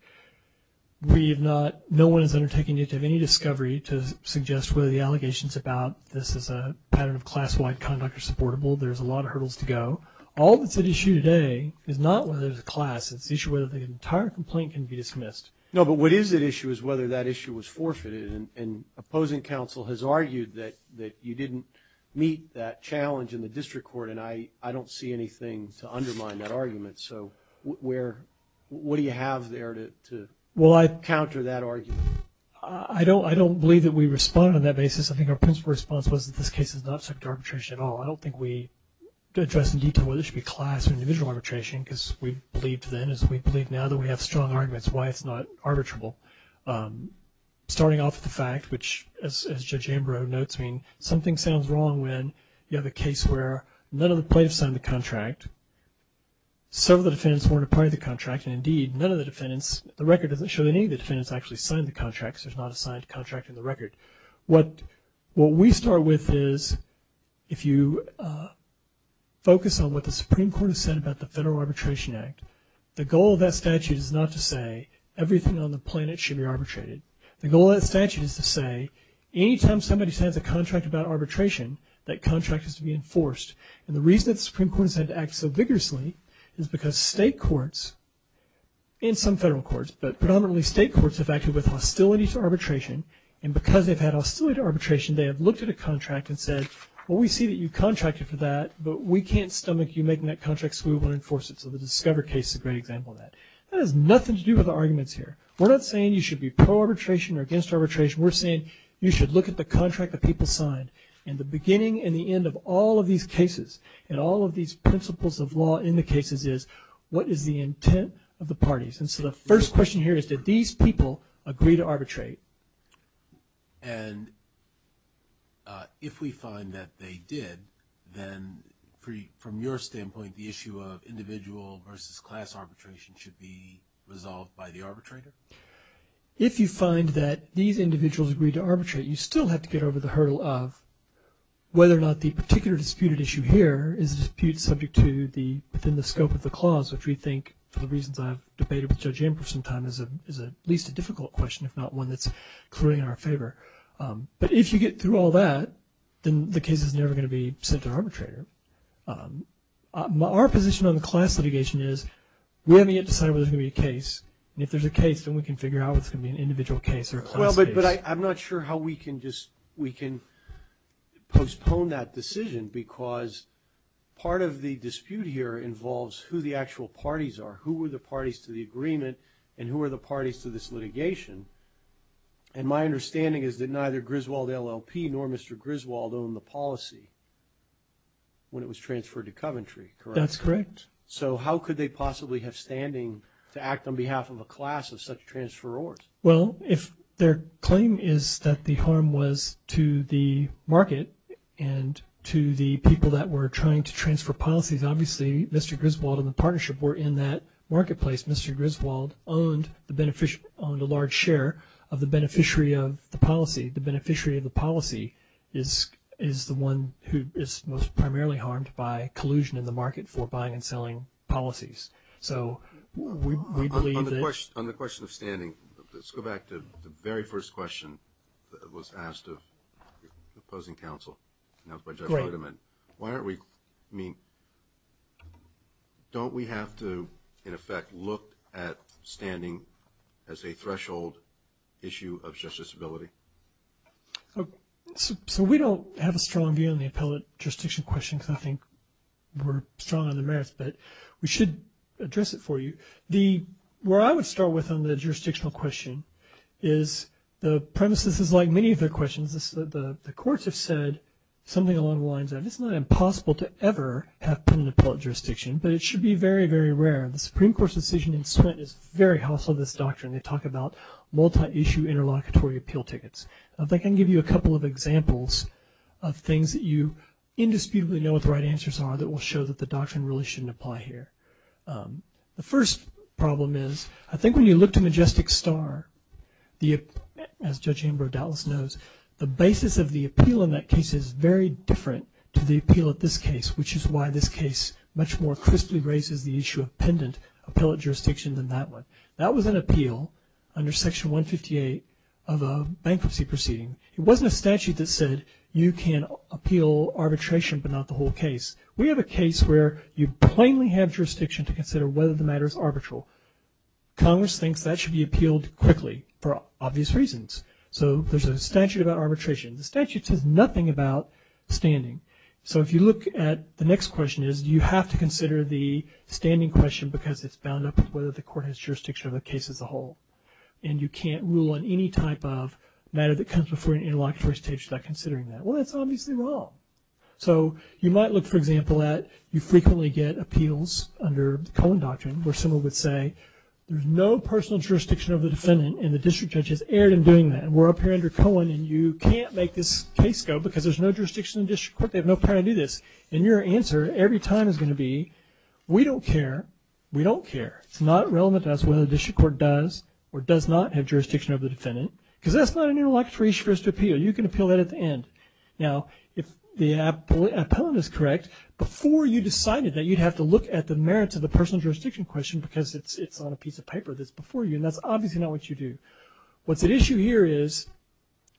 No one is undertaking to have any discovery to suggest whether the allegations about this as a pattern of class-wide conduct are supportable. There's a lot of hurdles to go. All that's at issue today is not whether there's a class. It's the issue whether the entire complaint can be dismissed. No, but what is at issue is whether that issue was forfeited and opposing counsel has argued that you didn't meet that challenge in the district court, and I don't see anything to undermine that argument. So what do you have there to counter that argument? I don't believe that we responded on that basis. I think our principal response was that this case is not subject to arbitration at all. I don't think we addressed in detail whether it should be class or individual arbitration because we believed then as we believe now that we have strong arguments why it's not arbitrable. Starting off with the fact, which as Judge Ambrose notes, I mean something sounds wrong when you have a case where none of the plaintiffs signed the contract, several of the defendants weren't a part of the contract, and indeed none of the defendants, the record doesn't show that any of the defendants actually signed the contract because there's not a signed contract in the record. What we start with is if you focus on what the Supreme Court has said about the Federal Arbitration Act, the goal of that statute is not to say everything on the planet should be arbitrated. The goal of that statute is to say any time somebody signs a contract about arbitration, that contract is to be enforced. And the reason that the Supreme Court has had to act so vigorously is because state courts and some federal courts, but predominantly state courts have acted with hostility to arbitration, and because they've had hostility to arbitration, they have looked at a contract and said, well, we see that you contracted for that, but we can't stomach you making that contract so we want to enforce it. So the Discover case is a great example of that. That has nothing to do with the arguments here. We're not saying you should be pro-arbitration or against arbitration. We're saying you should look at the contract that people signed. And the beginning and the end of all of these cases and all of these principles of law in the cases is, what is the intent of the parties? And so the first question here is, did these people agree to arbitrate? And if we find that they did, then from your standpoint, the issue of individual versus class arbitration should be resolved by the arbitrator? If you find that these individuals agreed to arbitrate, you still have to get over the hurdle of whether or not the particular disputed issue here is a dispute subject to the scope of the clause, which we think for the reasons I've debated with Judge Ambrose for some time is at least a difficult question, if not one that's clearly in our favor. But if you get through all that, then the case is never going to be sent to an arbitrator. Our position on the class litigation is we haven't yet decided whether there's going to be a case. And if there's a case, then we can figure out whether it's going to be an individual case or a class case. Well, but I'm not sure how we can just postpone that decision because part of the dispute here involves who the actual parties are, who were the parties to the agreement, and who are the parties to this litigation. And my understanding is that neither Griswold LLP nor Mr. Griswold owned the policy when it was transferred to Coventry, correct? That's correct. So how could they possibly have standing to act on behalf of a class of such transferors? Well, if their claim is that the harm was to the market and to the people that were trying to transfer policies, obviously Mr. Griswold and the partnership were in that marketplace. Mr. Griswold owned a large share of the beneficiary of the policy. The beneficiary of the policy is the one who is most primarily harmed by collusion in the market for buying and selling policies. So we believe that – On the question of standing, let's go back to the very first question that was asked of the opposing counsel. Great. Wait a minute. Why aren't we – I mean, don't we have to, in effect, look at standing as a threshold issue of justice ability? So we don't have a strong view on the appellate jurisdiction question because I think we're strong on the merits, but we should address it for you. Where I would start with on the jurisdictional question is the premises is like many of the questions. The courts have said something along the lines of, it's not impossible to ever have pen and appellate jurisdiction, but it should be very, very rare. The Supreme Court's decision in Swinton is very hostile to this doctrine. They talk about multi-issue interlocutory appeal tickets. I think I can give you a couple of examples of things that you indisputably know what the right answers are that will show that the doctrine really shouldn't apply here. The first problem is I think when you look to Majestic Star, as Judge Ambrose Dallas knows, the basis of the appeal in that case is very different to the appeal at this case, which is why this case much more crisply raises the issue of pendant appellate jurisdiction than that one. That was an appeal under Section 158 of a bankruptcy proceeding. It wasn't a statute that said you can appeal arbitration but not the whole case. We have a case where you plainly have jurisdiction to consider whether the matter is arbitral. Congress thinks that should be appealed quickly for obvious reasons. So there's a statute about arbitration. The statute says nothing about standing. So if you look at the next question is do you have to consider the standing question because it's bound up with whether the court has jurisdiction of the case as a whole and you can't rule on any type of matter that comes before an interlocutory state without considering that. Well, that's obviously wrong. So you might look, for example, at you frequently get appeals under the Cohen Doctrine where someone would say there's no personal jurisdiction of the defendant and the district judge has erred in doing that. We're up here under Cohen and you can't make this case go because there's no jurisdiction in the district court. They have no power to do this. And your answer every time is going to be we don't care. We don't care. It's not relevant to us whether the district court does or does not have jurisdiction over the defendant because that's not an interlocutory appeal. You can appeal that at the end. Now, if the appellant is correct, before you decided that you'd have to look at the merits of the personal jurisdiction question because it's on a piece of paper that's before you and that's obviously not what you do. What's at issue here is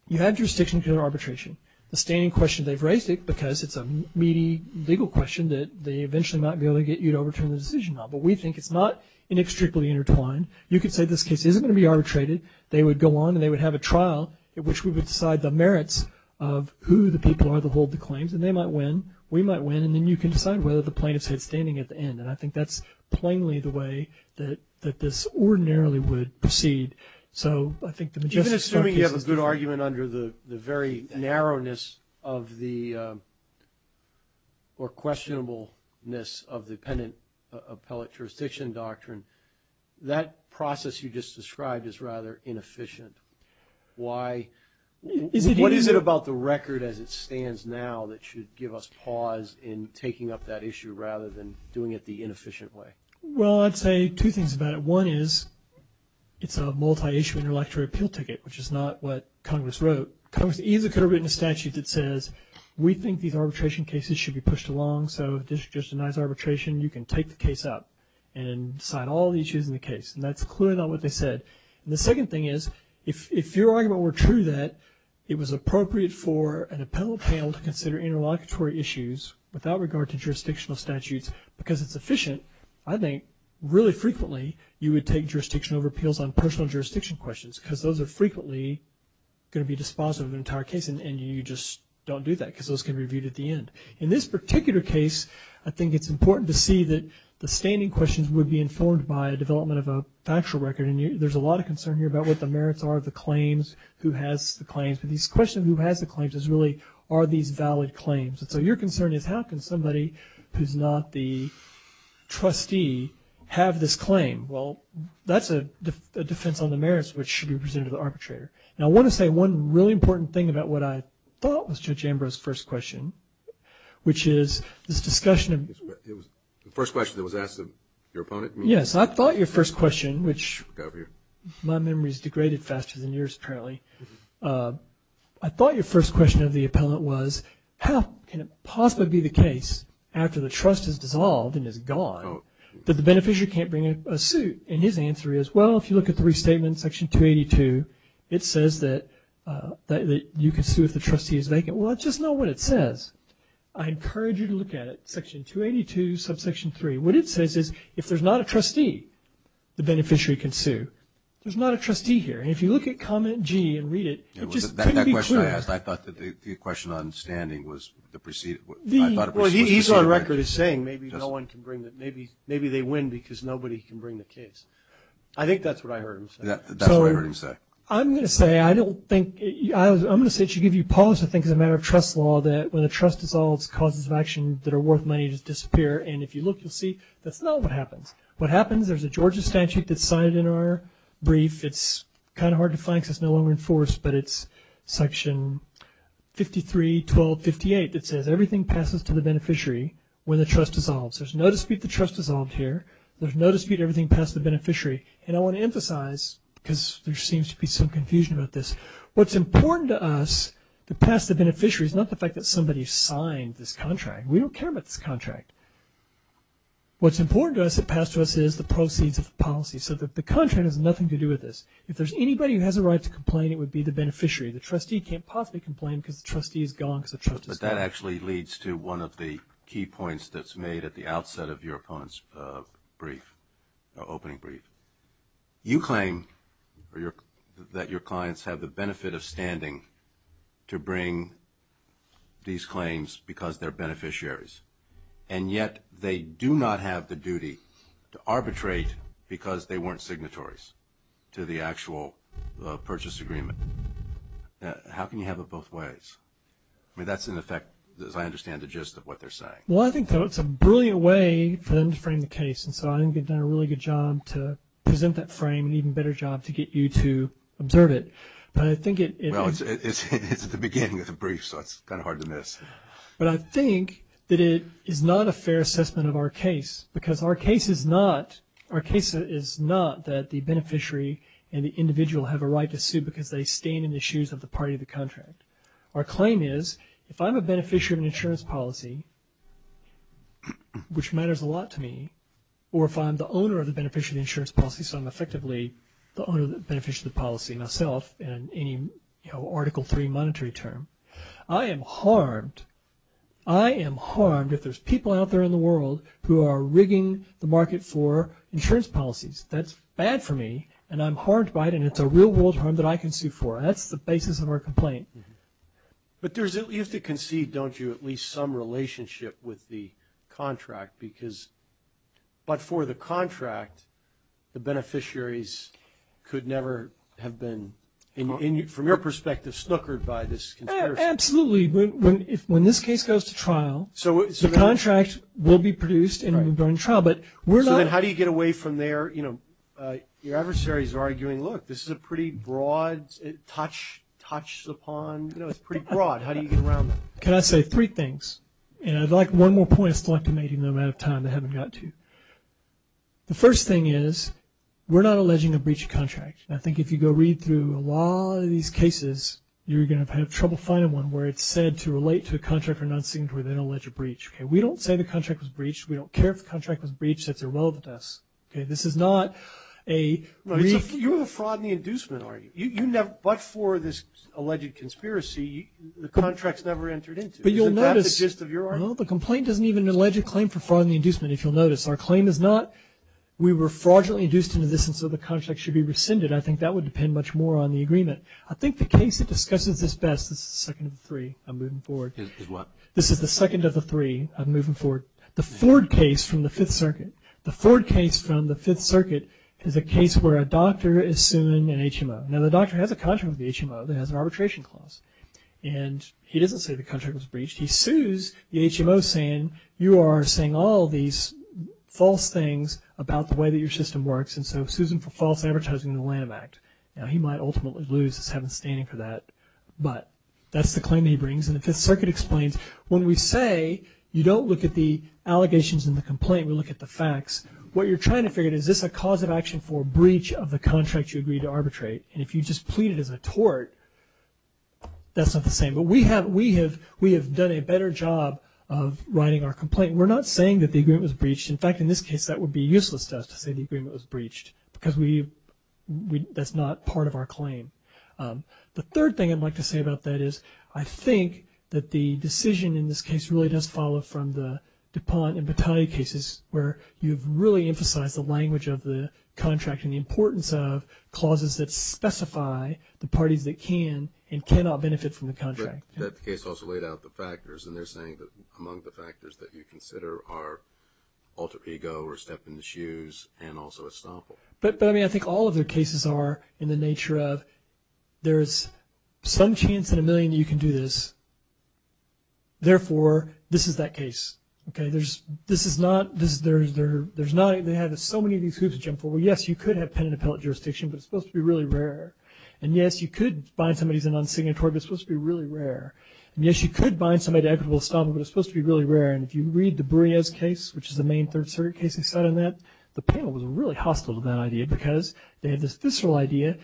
you have jurisdiction because of arbitration. The standing question they've raised it because it's a meaty legal question that they eventually might be able to get you to overturn the decision on. But we think it's not inextricably intertwined. You could say this case isn't going to be arbitrated. They would go on and they would have a trial in which we would decide the merits of who the people are that hold the claims and they might win, we might win, and then you can decide whether the plaintiff's head's standing at the end. And I think that's plainly the way that this ordinarily would proceed. So I think the magistrate's... Even assuming you have a good argument under the very narrowness of the or questionableness of the dependent appellate jurisdiction doctrine, that process you just described is rather inefficient. Why? What is it about the record as it stands now that should give us pause in taking up that issue rather than doing it the inefficient way? Well, I'd say two things about it. One is it's a multi-issue intellectual appeal ticket, which is not what Congress wrote. Congress easily could have written a statute that says we think these arbitration cases should be pushed along, so this is just a nice arbitration. You can take the case up and decide all the issues in the case. And that's clearly not what they said. And the second thing is if your argument were true that it was appropriate for an appellate panel to consider interlocutory issues without regard to jurisdictional statutes because it's efficient, I think really frequently you would take jurisdiction over appeals on personal jurisdiction questions because those are frequently going to be dispositive of an entire case and you just don't do that because those can be reviewed at the end. In this particular case, I think it's important to see that the standing questions would be informed by a development of a factual record. And there's a lot of concern here about what the merits are of the claims, who has the claims. But this question of who has the claims is really are these valid claims. And so your concern is how can somebody who's not the trustee have this claim? Well, that's a defense on the merits which should be presented to the arbitrator. Now, I want to say one really important thing about what I thought was Judge Ambrose's first question, which is this discussion of – The first question that was asked of your opponent? Yes. I thought your first question, which my memory has degraded faster than yours, apparently. I thought your first question of the appellant was how can it possibly be the case after the trust is dissolved and is gone that the beneficiary can't bring a suit? And his answer is, well, if you look at the restatement, section 282, it says that you can sue if the trustee is vacant. Well, just know what it says. I encourage you to look at it, section 282, subsection 3. What it says is if there's not a trustee the beneficiary can sue. There's not a trustee here. And if you look at comment G and read it, it just couldn't be clear. That question I asked, I thought the question on standing was the preceded – I thought it was – Well, he's on record as saying maybe no one can bring the – maybe they win because nobody can bring the case. I think that's what I heard him say. That's what I heard him say. I'm going to say I don't think – I'm going to say to give you pause to think as a matter of trust law that when a trust dissolves, causes of action that are worth money just disappear. And if you look, you'll see that's not what happens. What happens, there's a Georgia statute that's cited in our brief. It's kind of hard to find because it's no longer enforced, but it's section 53.12.58 that says everything passes to the beneficiary when the trust dissolves. There's no dispute the trust dissolved here. There's no dispute everything passed the beneficiary. And I want to emphasize because there seems to be some confusion about this, what's important to us to pass the beneficiary is not the fact that somebody signed this contract. We don't care about this contract. What's important to us to pass to us is the proceeds of the policy, so that the contract has nothing to do with this. If there's anybody who has a right to complain, it would be the beneficiary. The trustee can't possibly complain because the trustee is gone because the trust is gone. But that actually leads to one of the key points that's made at the outset of your opponent's brief, opening brief. You claim that your clients have the benefit of standing to bring these claims because they're beneficiaries, and yet they do not have the duty to arbitrate because they weren't signatories to the actual purchase agreement. How can you have it both ways? I mean, that's in effect, as I understand the gist of what they're saying. Well, I think it's a brilliant way for them to frame the case, and so I think they've done a really good job to present that frame, an even better job to get you to observe it. Well, it's at the beginning of the brief, so it's kind of hard to miss. But I think that it is not a fair assessment of our case because our case is not that the beneficiary and the individual have a right to sue because they stand in the shoes of the party of the contract. Our claim is if I'm a beneficiary of an insurance policy, which matters a lot to me, or if I'm the owner of the beneficiary of the insurance policy, so I'm effectively the owner of the beneficiary of the policy myself in any Article III monetary term, I am harmed. I am harmed if there's people out there in the world who are rigging the market for insurance policies. That's bad for me, and I'm harmed by it, and it's a real-world harm that I can sue for. That's the basis of our complaint. But you have to concede, don't you, at least some relationship with the contract because but for the contract, the beneficiaries could never have been, from your perspective, snookered by this conspiracy. Absolutely. When this case goes to trial, the contract will be produced and will go into trial. So then how do you get away from their, you know, your adversaries are arguing, look, this is a pretty broad touch upon, you know, it's pretty broad. How do you get around that? Can I say three things? And I'd like one more point. I still have to make it in the amount of time. I haven't got to. The first thing is we're not alleging a breach of contract. I think if you go read through a lot of these cases, you're going to have trouble finding one where it's said to relate to a contract or non-signatory they don't allege a breach. Okay, we don't say the contract was breached. We don't care if the contract was breached. That's irrelevant to us. Okay, this is not a breach. You're the fraud and the inducement, are you? But for this alleged conspiracy, the contract's never entered into. But you'll notice. Isn't that the gist of your argument? No, the complaint doesn't even allege a claim for fraud and the inducement, if you'll notice. Our claim is not we were fraudulently induced into this and so the contract should be rescinded. I think that would depend much more on the agreement. I think the case that discusses this best is the second of the three. I'm moving forward. Is what? This is the second of the three. I'm moving forward. The Ford case from the Fifth Circuit. The Ford case from the Fifth Circuit is a case where a doctor is suing an HMO. Now, the doctor has a contract with the HMO that has an arbitration clause. And he doesn't say the contract was breached. He sues the HMO saying, you are saying all these false things about the way that your system works, and so sues him for false advertising in the Lanham Act. Now, he might ultimately lose. There's heaven standing for that. But that's the claim he brings. And the Fifth Circuit explains, when we say you don't look at the allegations in the complaint, we look at the facts, what you're trying to figure is, is this a cause of action for breach of the contract you agreed to arbitrate? And if you just plead it as a tort, that's not the same. But we have done a better job of writing our complaint. We're not saying that the agreement was breached. In fact, in this case, that would be useless to us to say the agreement was breached because that's not part of our claim. The third thing I'd like to say about that is, I think that the decision in this case really does follow from the DuPont and Battaglia cases where you've really emphasized the language of the contract and the importance of clauses that specify the parties that can and cannot benefit from the contract. That case also laid out the factors, and they're saying that among the factors that you consider are alter ego or step in the shoes and also estoppel. But, I mean, I think all of their cases are in the nature of, there's some chance in a million that you can do this. Therefore, this is that case. Okay, this is not, there's not, they have so many of these hoops to jump for. Well, yes, you could have pen and appellate jurisdiction, but it's supposed to be really rare. And, yes, you could bind somebody who's an unsignatory, but it's supposed to be really rare. And, yes, you could bind somebody to equitable estoppel, but it's supposed to be really rare. And if you read the Bureas case, which is the main third circuit case they sat on that, the panel was really hostile to that idea because they had this visceral idea.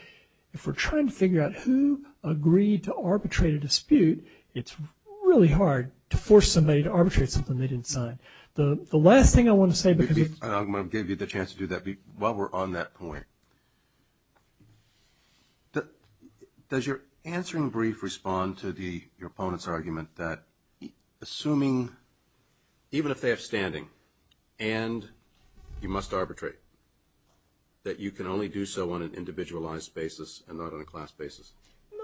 If we're trying to figure out who agreed to arbitrate a dispute, it's really hard to force somebody to arbitrate something they didn't sign. The last thing I want to say, because it's- I'm going to give you the chance to do that while we're on that point. Does your answering brief respond to your opponent's argument that assuming, even if they have standing and you must arbitrate, that you can only do so on an individualized basis and not on a class basis?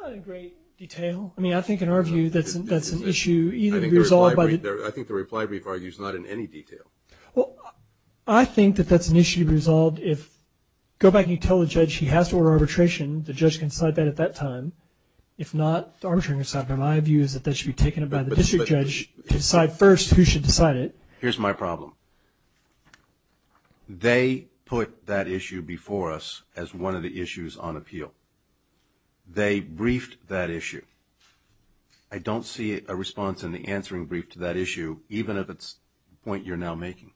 Not in great detail. I mean, I think in our view that's an issue either resolved by the- or not in any detail. Well, I think that that's an issue resolved if- go back and you tell the judge he has to order arbitration, the judge can decide that at that time. If not, the arbitration can decide. My view is that that should be taken up by the district judge to decide first who should decide it. Here's my problem. They put that issue before us as one of the issues on appeal. They briefed that issue. I don't see a response in the answering brief to that issue, even if it's the point you're now making.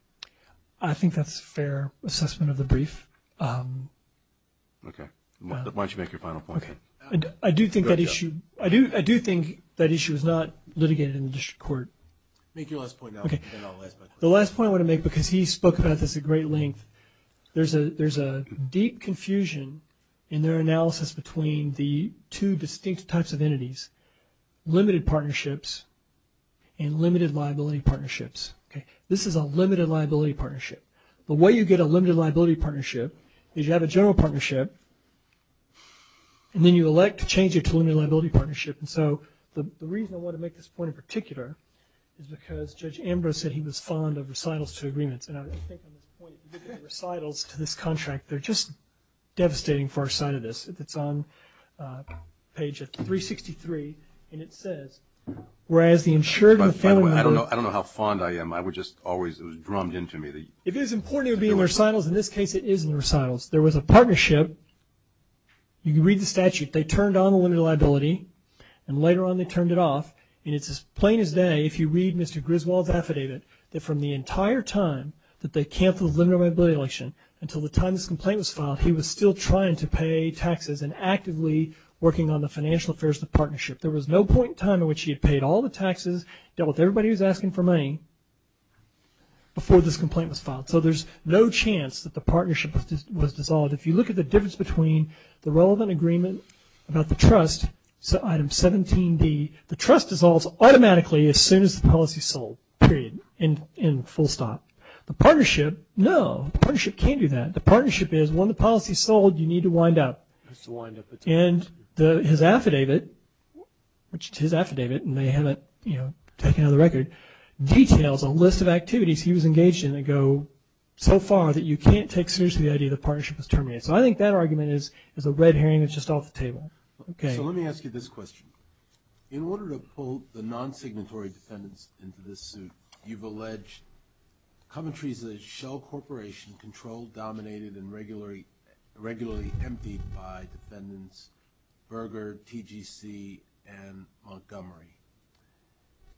I think that's a fair assessment of the brief. Okay. Why don't you make your final point? I do think that issue is not litigated in the district court. Make your last point now. The last point I want to make, because he spoke about this at great length, there's a deep confusion in their analysis between the two distinct types of liability partnerships. This is a limited liability partnership. The way you get a limited liability partnership is you have a general partnership and then you elect to change it to a limited liability partnership. And so the reason I want to make this point in particular is because Judge Ambrose said he was fond of recitals to agreements. And I think on this point, recitals to this contract, they're just devastating for our side of this. It's on page 363, and it says, I don't know how fond I am. It was drummed into me. It is important it would be in recitals. In this case, it is in recitals. There was a partnership. You can read the statute. They turned on the limited liability, and later on they turned it off. And it's as plain as day, if you read Mr. Griswold's affidavit, that from the entire time that they canceled the limited liability election until the time this complaint was filed, he was still trying to pay taxes and actively working on the financial affairs of the partnership. There was no point in time in which he had paid all the taxes, dealt with everybody who was asking for money, before this complaint was filed. So there's no chance that the partnership was dissolved. If you look at the difference between the relevant agreement about the trust, item 17D, the trust dissolves automatically as soon as the policy is sold, period, in full stop. The partnership, no, the partnership can't do that. The partnership is, when the policy is sold, you need to wind up. And his affidavit, which is his affidavit, and they haven't taken it out of the record, details a list of activities he was engaged in that go so far that you can't take seriously the idea the partnership was terminated. So I think that argument is a red herring that's just off the table. Okay. So let me ask you this question. In order to pull the non-signatory defendants into this suit, you've alleged commentaries that Shell Corporation controlled, dominated, and regularly emptied by defendants Berger, TGC, and Montgomery.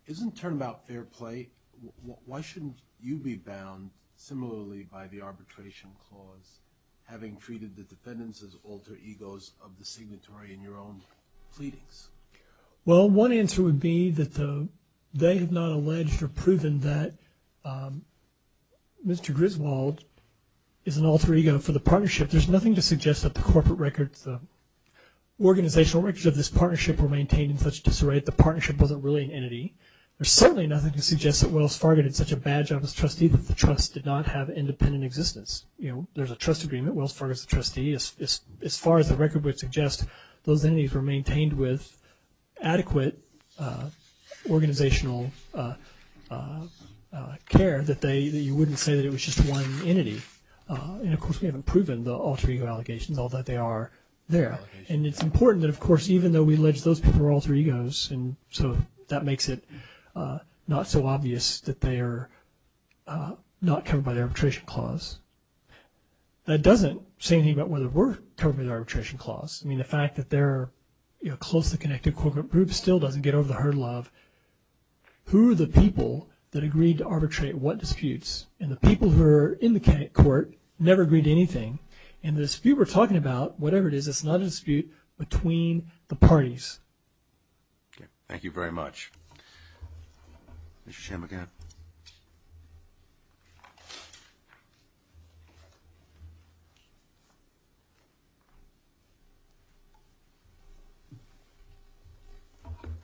Isn't turnabout fair play? Why shouldn't you be bound similarly by the arbitration clause, having treated the defendants as alter egos of the signatory in your own pleadings? Well, one answer would be that they have not alleged or proven that Mr. Berger is an alter ego for the partnership. There's nothing to suggest that the corporate records, the organizational records of this partnership were maintained in such disarray that the partnership wasn't really an entity. There's certainly nothing to suggest that Wells Fargo did such a bad job as trustee that the trust did not have independent existence. You know, there's a trust agreement. Wells Fargo is a trustee. As far as the record would suggest, those entities were maintained with adequate organizational care that you wouldn't say that it was just one entity. And, of course, we haven't proven the alter ego allegations, although they are there. And it's important that, of course, even though we allege those people are alter egos, and so that makes it not so obvious that they are not covered by the arbitration clause. That doesn't say anything about whether we're covered by the arbitration clause. I mean, the fact that they're a closely connected corporate group still doesn't get over the hurdle of who are the people that agreed to arbitrate what disputes. And the people who are in the court never agreed to anything. And the dispute we're talking about, whatever it is, it's not a dispute between the parties. Okay. Thank you very much. Mr. Chairman, go ahead.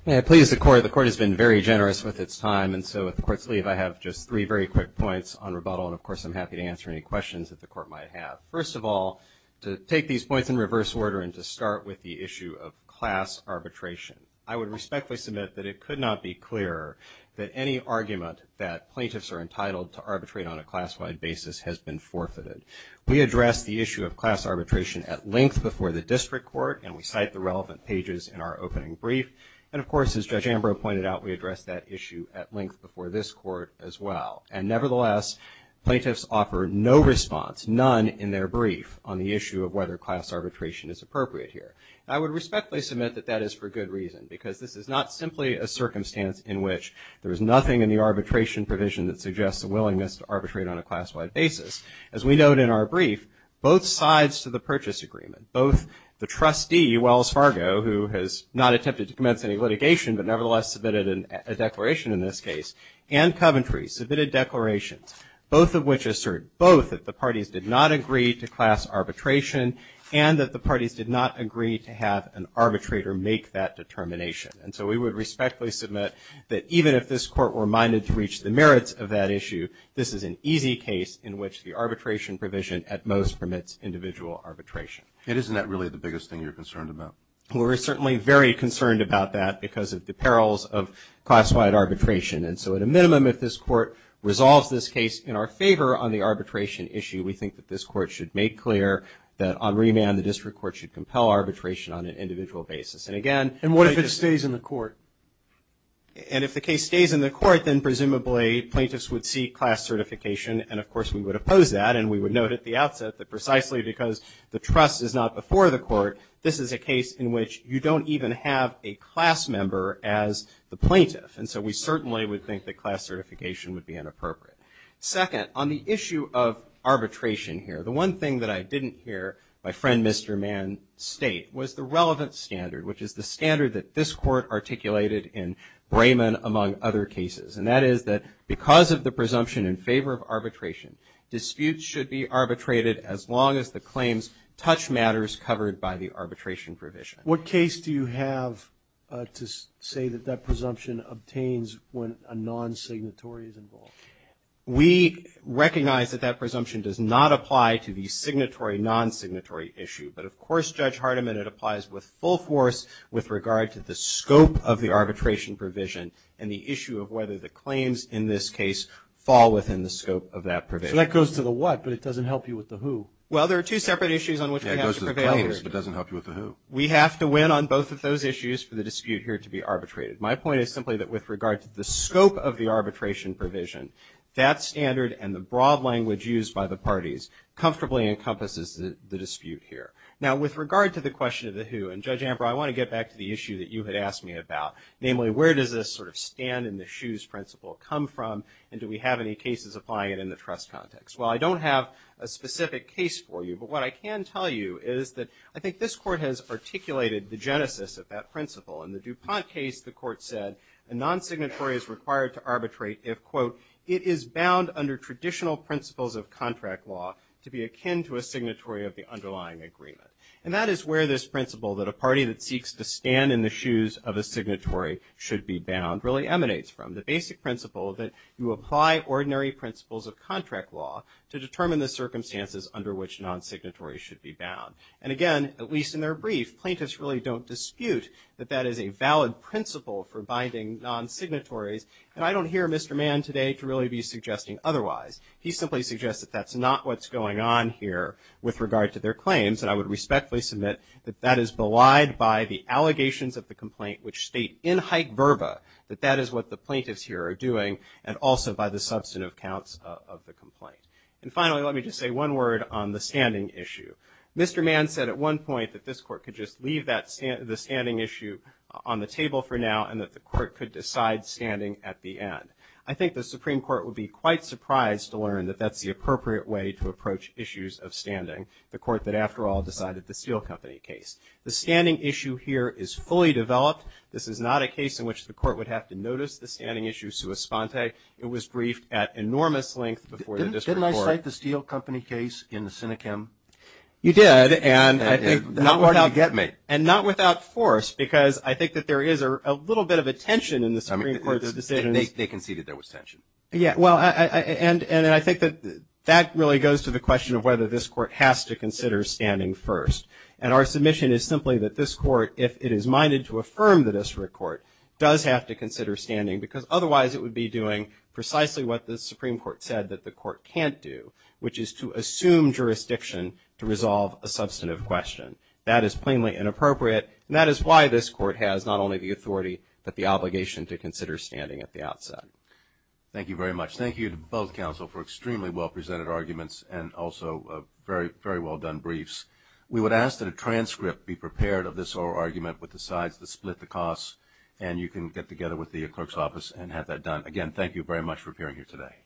May I please? The Court has been very generous with its time, and so with the Court's leave, I have just three very quick points on rebuttal. And, of course, I'm happy to answer any questions that the Court might have. First of all, to take these points in reverse order and to start with the issue of class arbitration, I would respectfully submit that it could not be clearer that any argument that plaintiffs are entitled to arbitrate on a class-wide basis has been forfeited. We addressed the issue of class arbitration at length before the district court, and we cite the relevant pages in our opening brief. And, of course, as Judge Ambrose pointed out, we addressed that issue at length before this Court as well. And, nevertheless, plaintiffs offer no response, none in their brief on the issue of whether class arbitration is appropriate here. I would respectfully submit that that is for good reason, because this is not simply a circumstance in which there is nothing in the arbitration provision that suggests a willingness to arbitrate on a class-wide basis. As we note in our brief, both sides to the purchase agreement, both the trustee, Wells Fargo, who has not attempted to commence any litigation but nevertheless submitted a declaration in this case, and Coventry submitted declarations, both of which assert both that the parties did not agree to class arbitration and that the parties did not agree to have an arbitrator make that determination. And so we would respectfully submit that even if this Court were minded to reach the merits of that issue, this is an easy case in which the arbitration provision at most permits individual arbitration. And isn't that really the biggest thing you're concerned about? Well, we're certainly very concerned about that because of the perils of class-wide arbitration. And so at a minimum, if this Court resolves this case in our favor on the arbitration issue, we think that this Court should make clear that on remand the district court should compel arbitration on an individual basis. And again they just And what if it stays in the court? And if the case stays in the court, then presumably plaintiffs would seek class certification, and of course we would oppose that. And we would note at the outset that precisely because the trust is not before the court, this is a case in which you don't even have a class member as the plaintiff. And so we certainly would think that class certification would be inappropriate. Second, on the issue of arbitration here, the one thing that I didn't hear my friend Mr. Mann state was the relevant standard, which is the standard that this Court articulated in Brayman, among other cases. And that is that because of the presumption in favor of arbitration, disputes should be arbitrated as long as the claims touch matters covered by the arbitration provision. What case do you have to say that that presumption obtains when a non-signatory is involved? We recognize that that presumption does not apply to the signatory, non-signatory issue. But of course, Judge Hardiman, it applies with full force with regard to the scope of the arbitration provision and the issue of whether the claims in this case fall within the scope of that provision. So that goes to the what, but it doesn't help you with the who? Well, there are two separate issues on which we have to prevail here. Yeah, it goes to the claims, but it doesn't help you with the who. We have to win on both of those issues for the dispute here to be arbitrated. My point is simply that with regard to the scope of the arbitration provision, that standard and the broad language used by the parties comfortably encompasses the dispute here. Now, with regard to the question of the who, and Judge Ambrose, I want to get back to the issue that you had asked me about, namely, where does this sort of stand-in-the-shoes principle come from, and do we have any cases applying it in the trust context? Well, I don't have a specific case for you, but what I can tell you is that I think this Court has articulated the genesis of that principle. In the DuPont case, the Court said a non-signatory is required to arbitrate if, quote, it is bound under traditional principles of contract law to be akin to a signatory of the underlying agreement. And that is where this principle that a party that seeks to stand in the should be bound really emanates from, the basic principle that you apply ordinary principles of contract law to determine the circumstances under which non-signatories should be bound. And, again, at least in their brief, plaintiffs really don't dispute that that is a valid principle for binding non-signatories, and I don't hear Mr. Mann today to really be suggesting otherwise. He simply suggests that that's not what's going on here with regard to their claims, and I would respectfully submit that that is belied by the verba, that that is what the plaintiffs here are doing, and also by the substantive counts of the complaint. And, finally, let me just say one word on the standing issue. Mr. Mann said at one point that this Court could just leave the standing issue on the table for now and that the Court could decide standing at the end. I think the Supreme Court would be quite surprised to learn that that's the appropriate way to approach issues of standing, the Court that, after all, decided the Steel Company case. The standing issue here is fully developed. This is not a case in which the Court would have to notice the standing issue sua sponte. It was briefed at enormous length before the district court. Didn't I cite the Steel Company case in the Sinechem? You did. And not without force, because I think that there is a little bit of a tension in the Supreme Court's decisions. They conceded there was tension. Yeah. Well, and I think that that really goes to the question of whether this Court has to consider standing first. And our submission is simply that this Court, if it is minded to affirm the district court, does have to consider standing, because otherwise it would be doing precisely what the Supreme Court said that the Court can't do, which is to assume jurisdiction to resolve a substantive question. That is plainly inappropriate, and that is why this Court has not only the authority but the obligation to consider standing at the outset. Thank you very much. Thank you to both counsel for extremely well-presented arguments and also very well-done briefs. We would ask that a transcript be prepared of this oral argument with the sides that split the costs, and you can get together with the clerk's office and have that done. Again, thank you very much for appearing here today.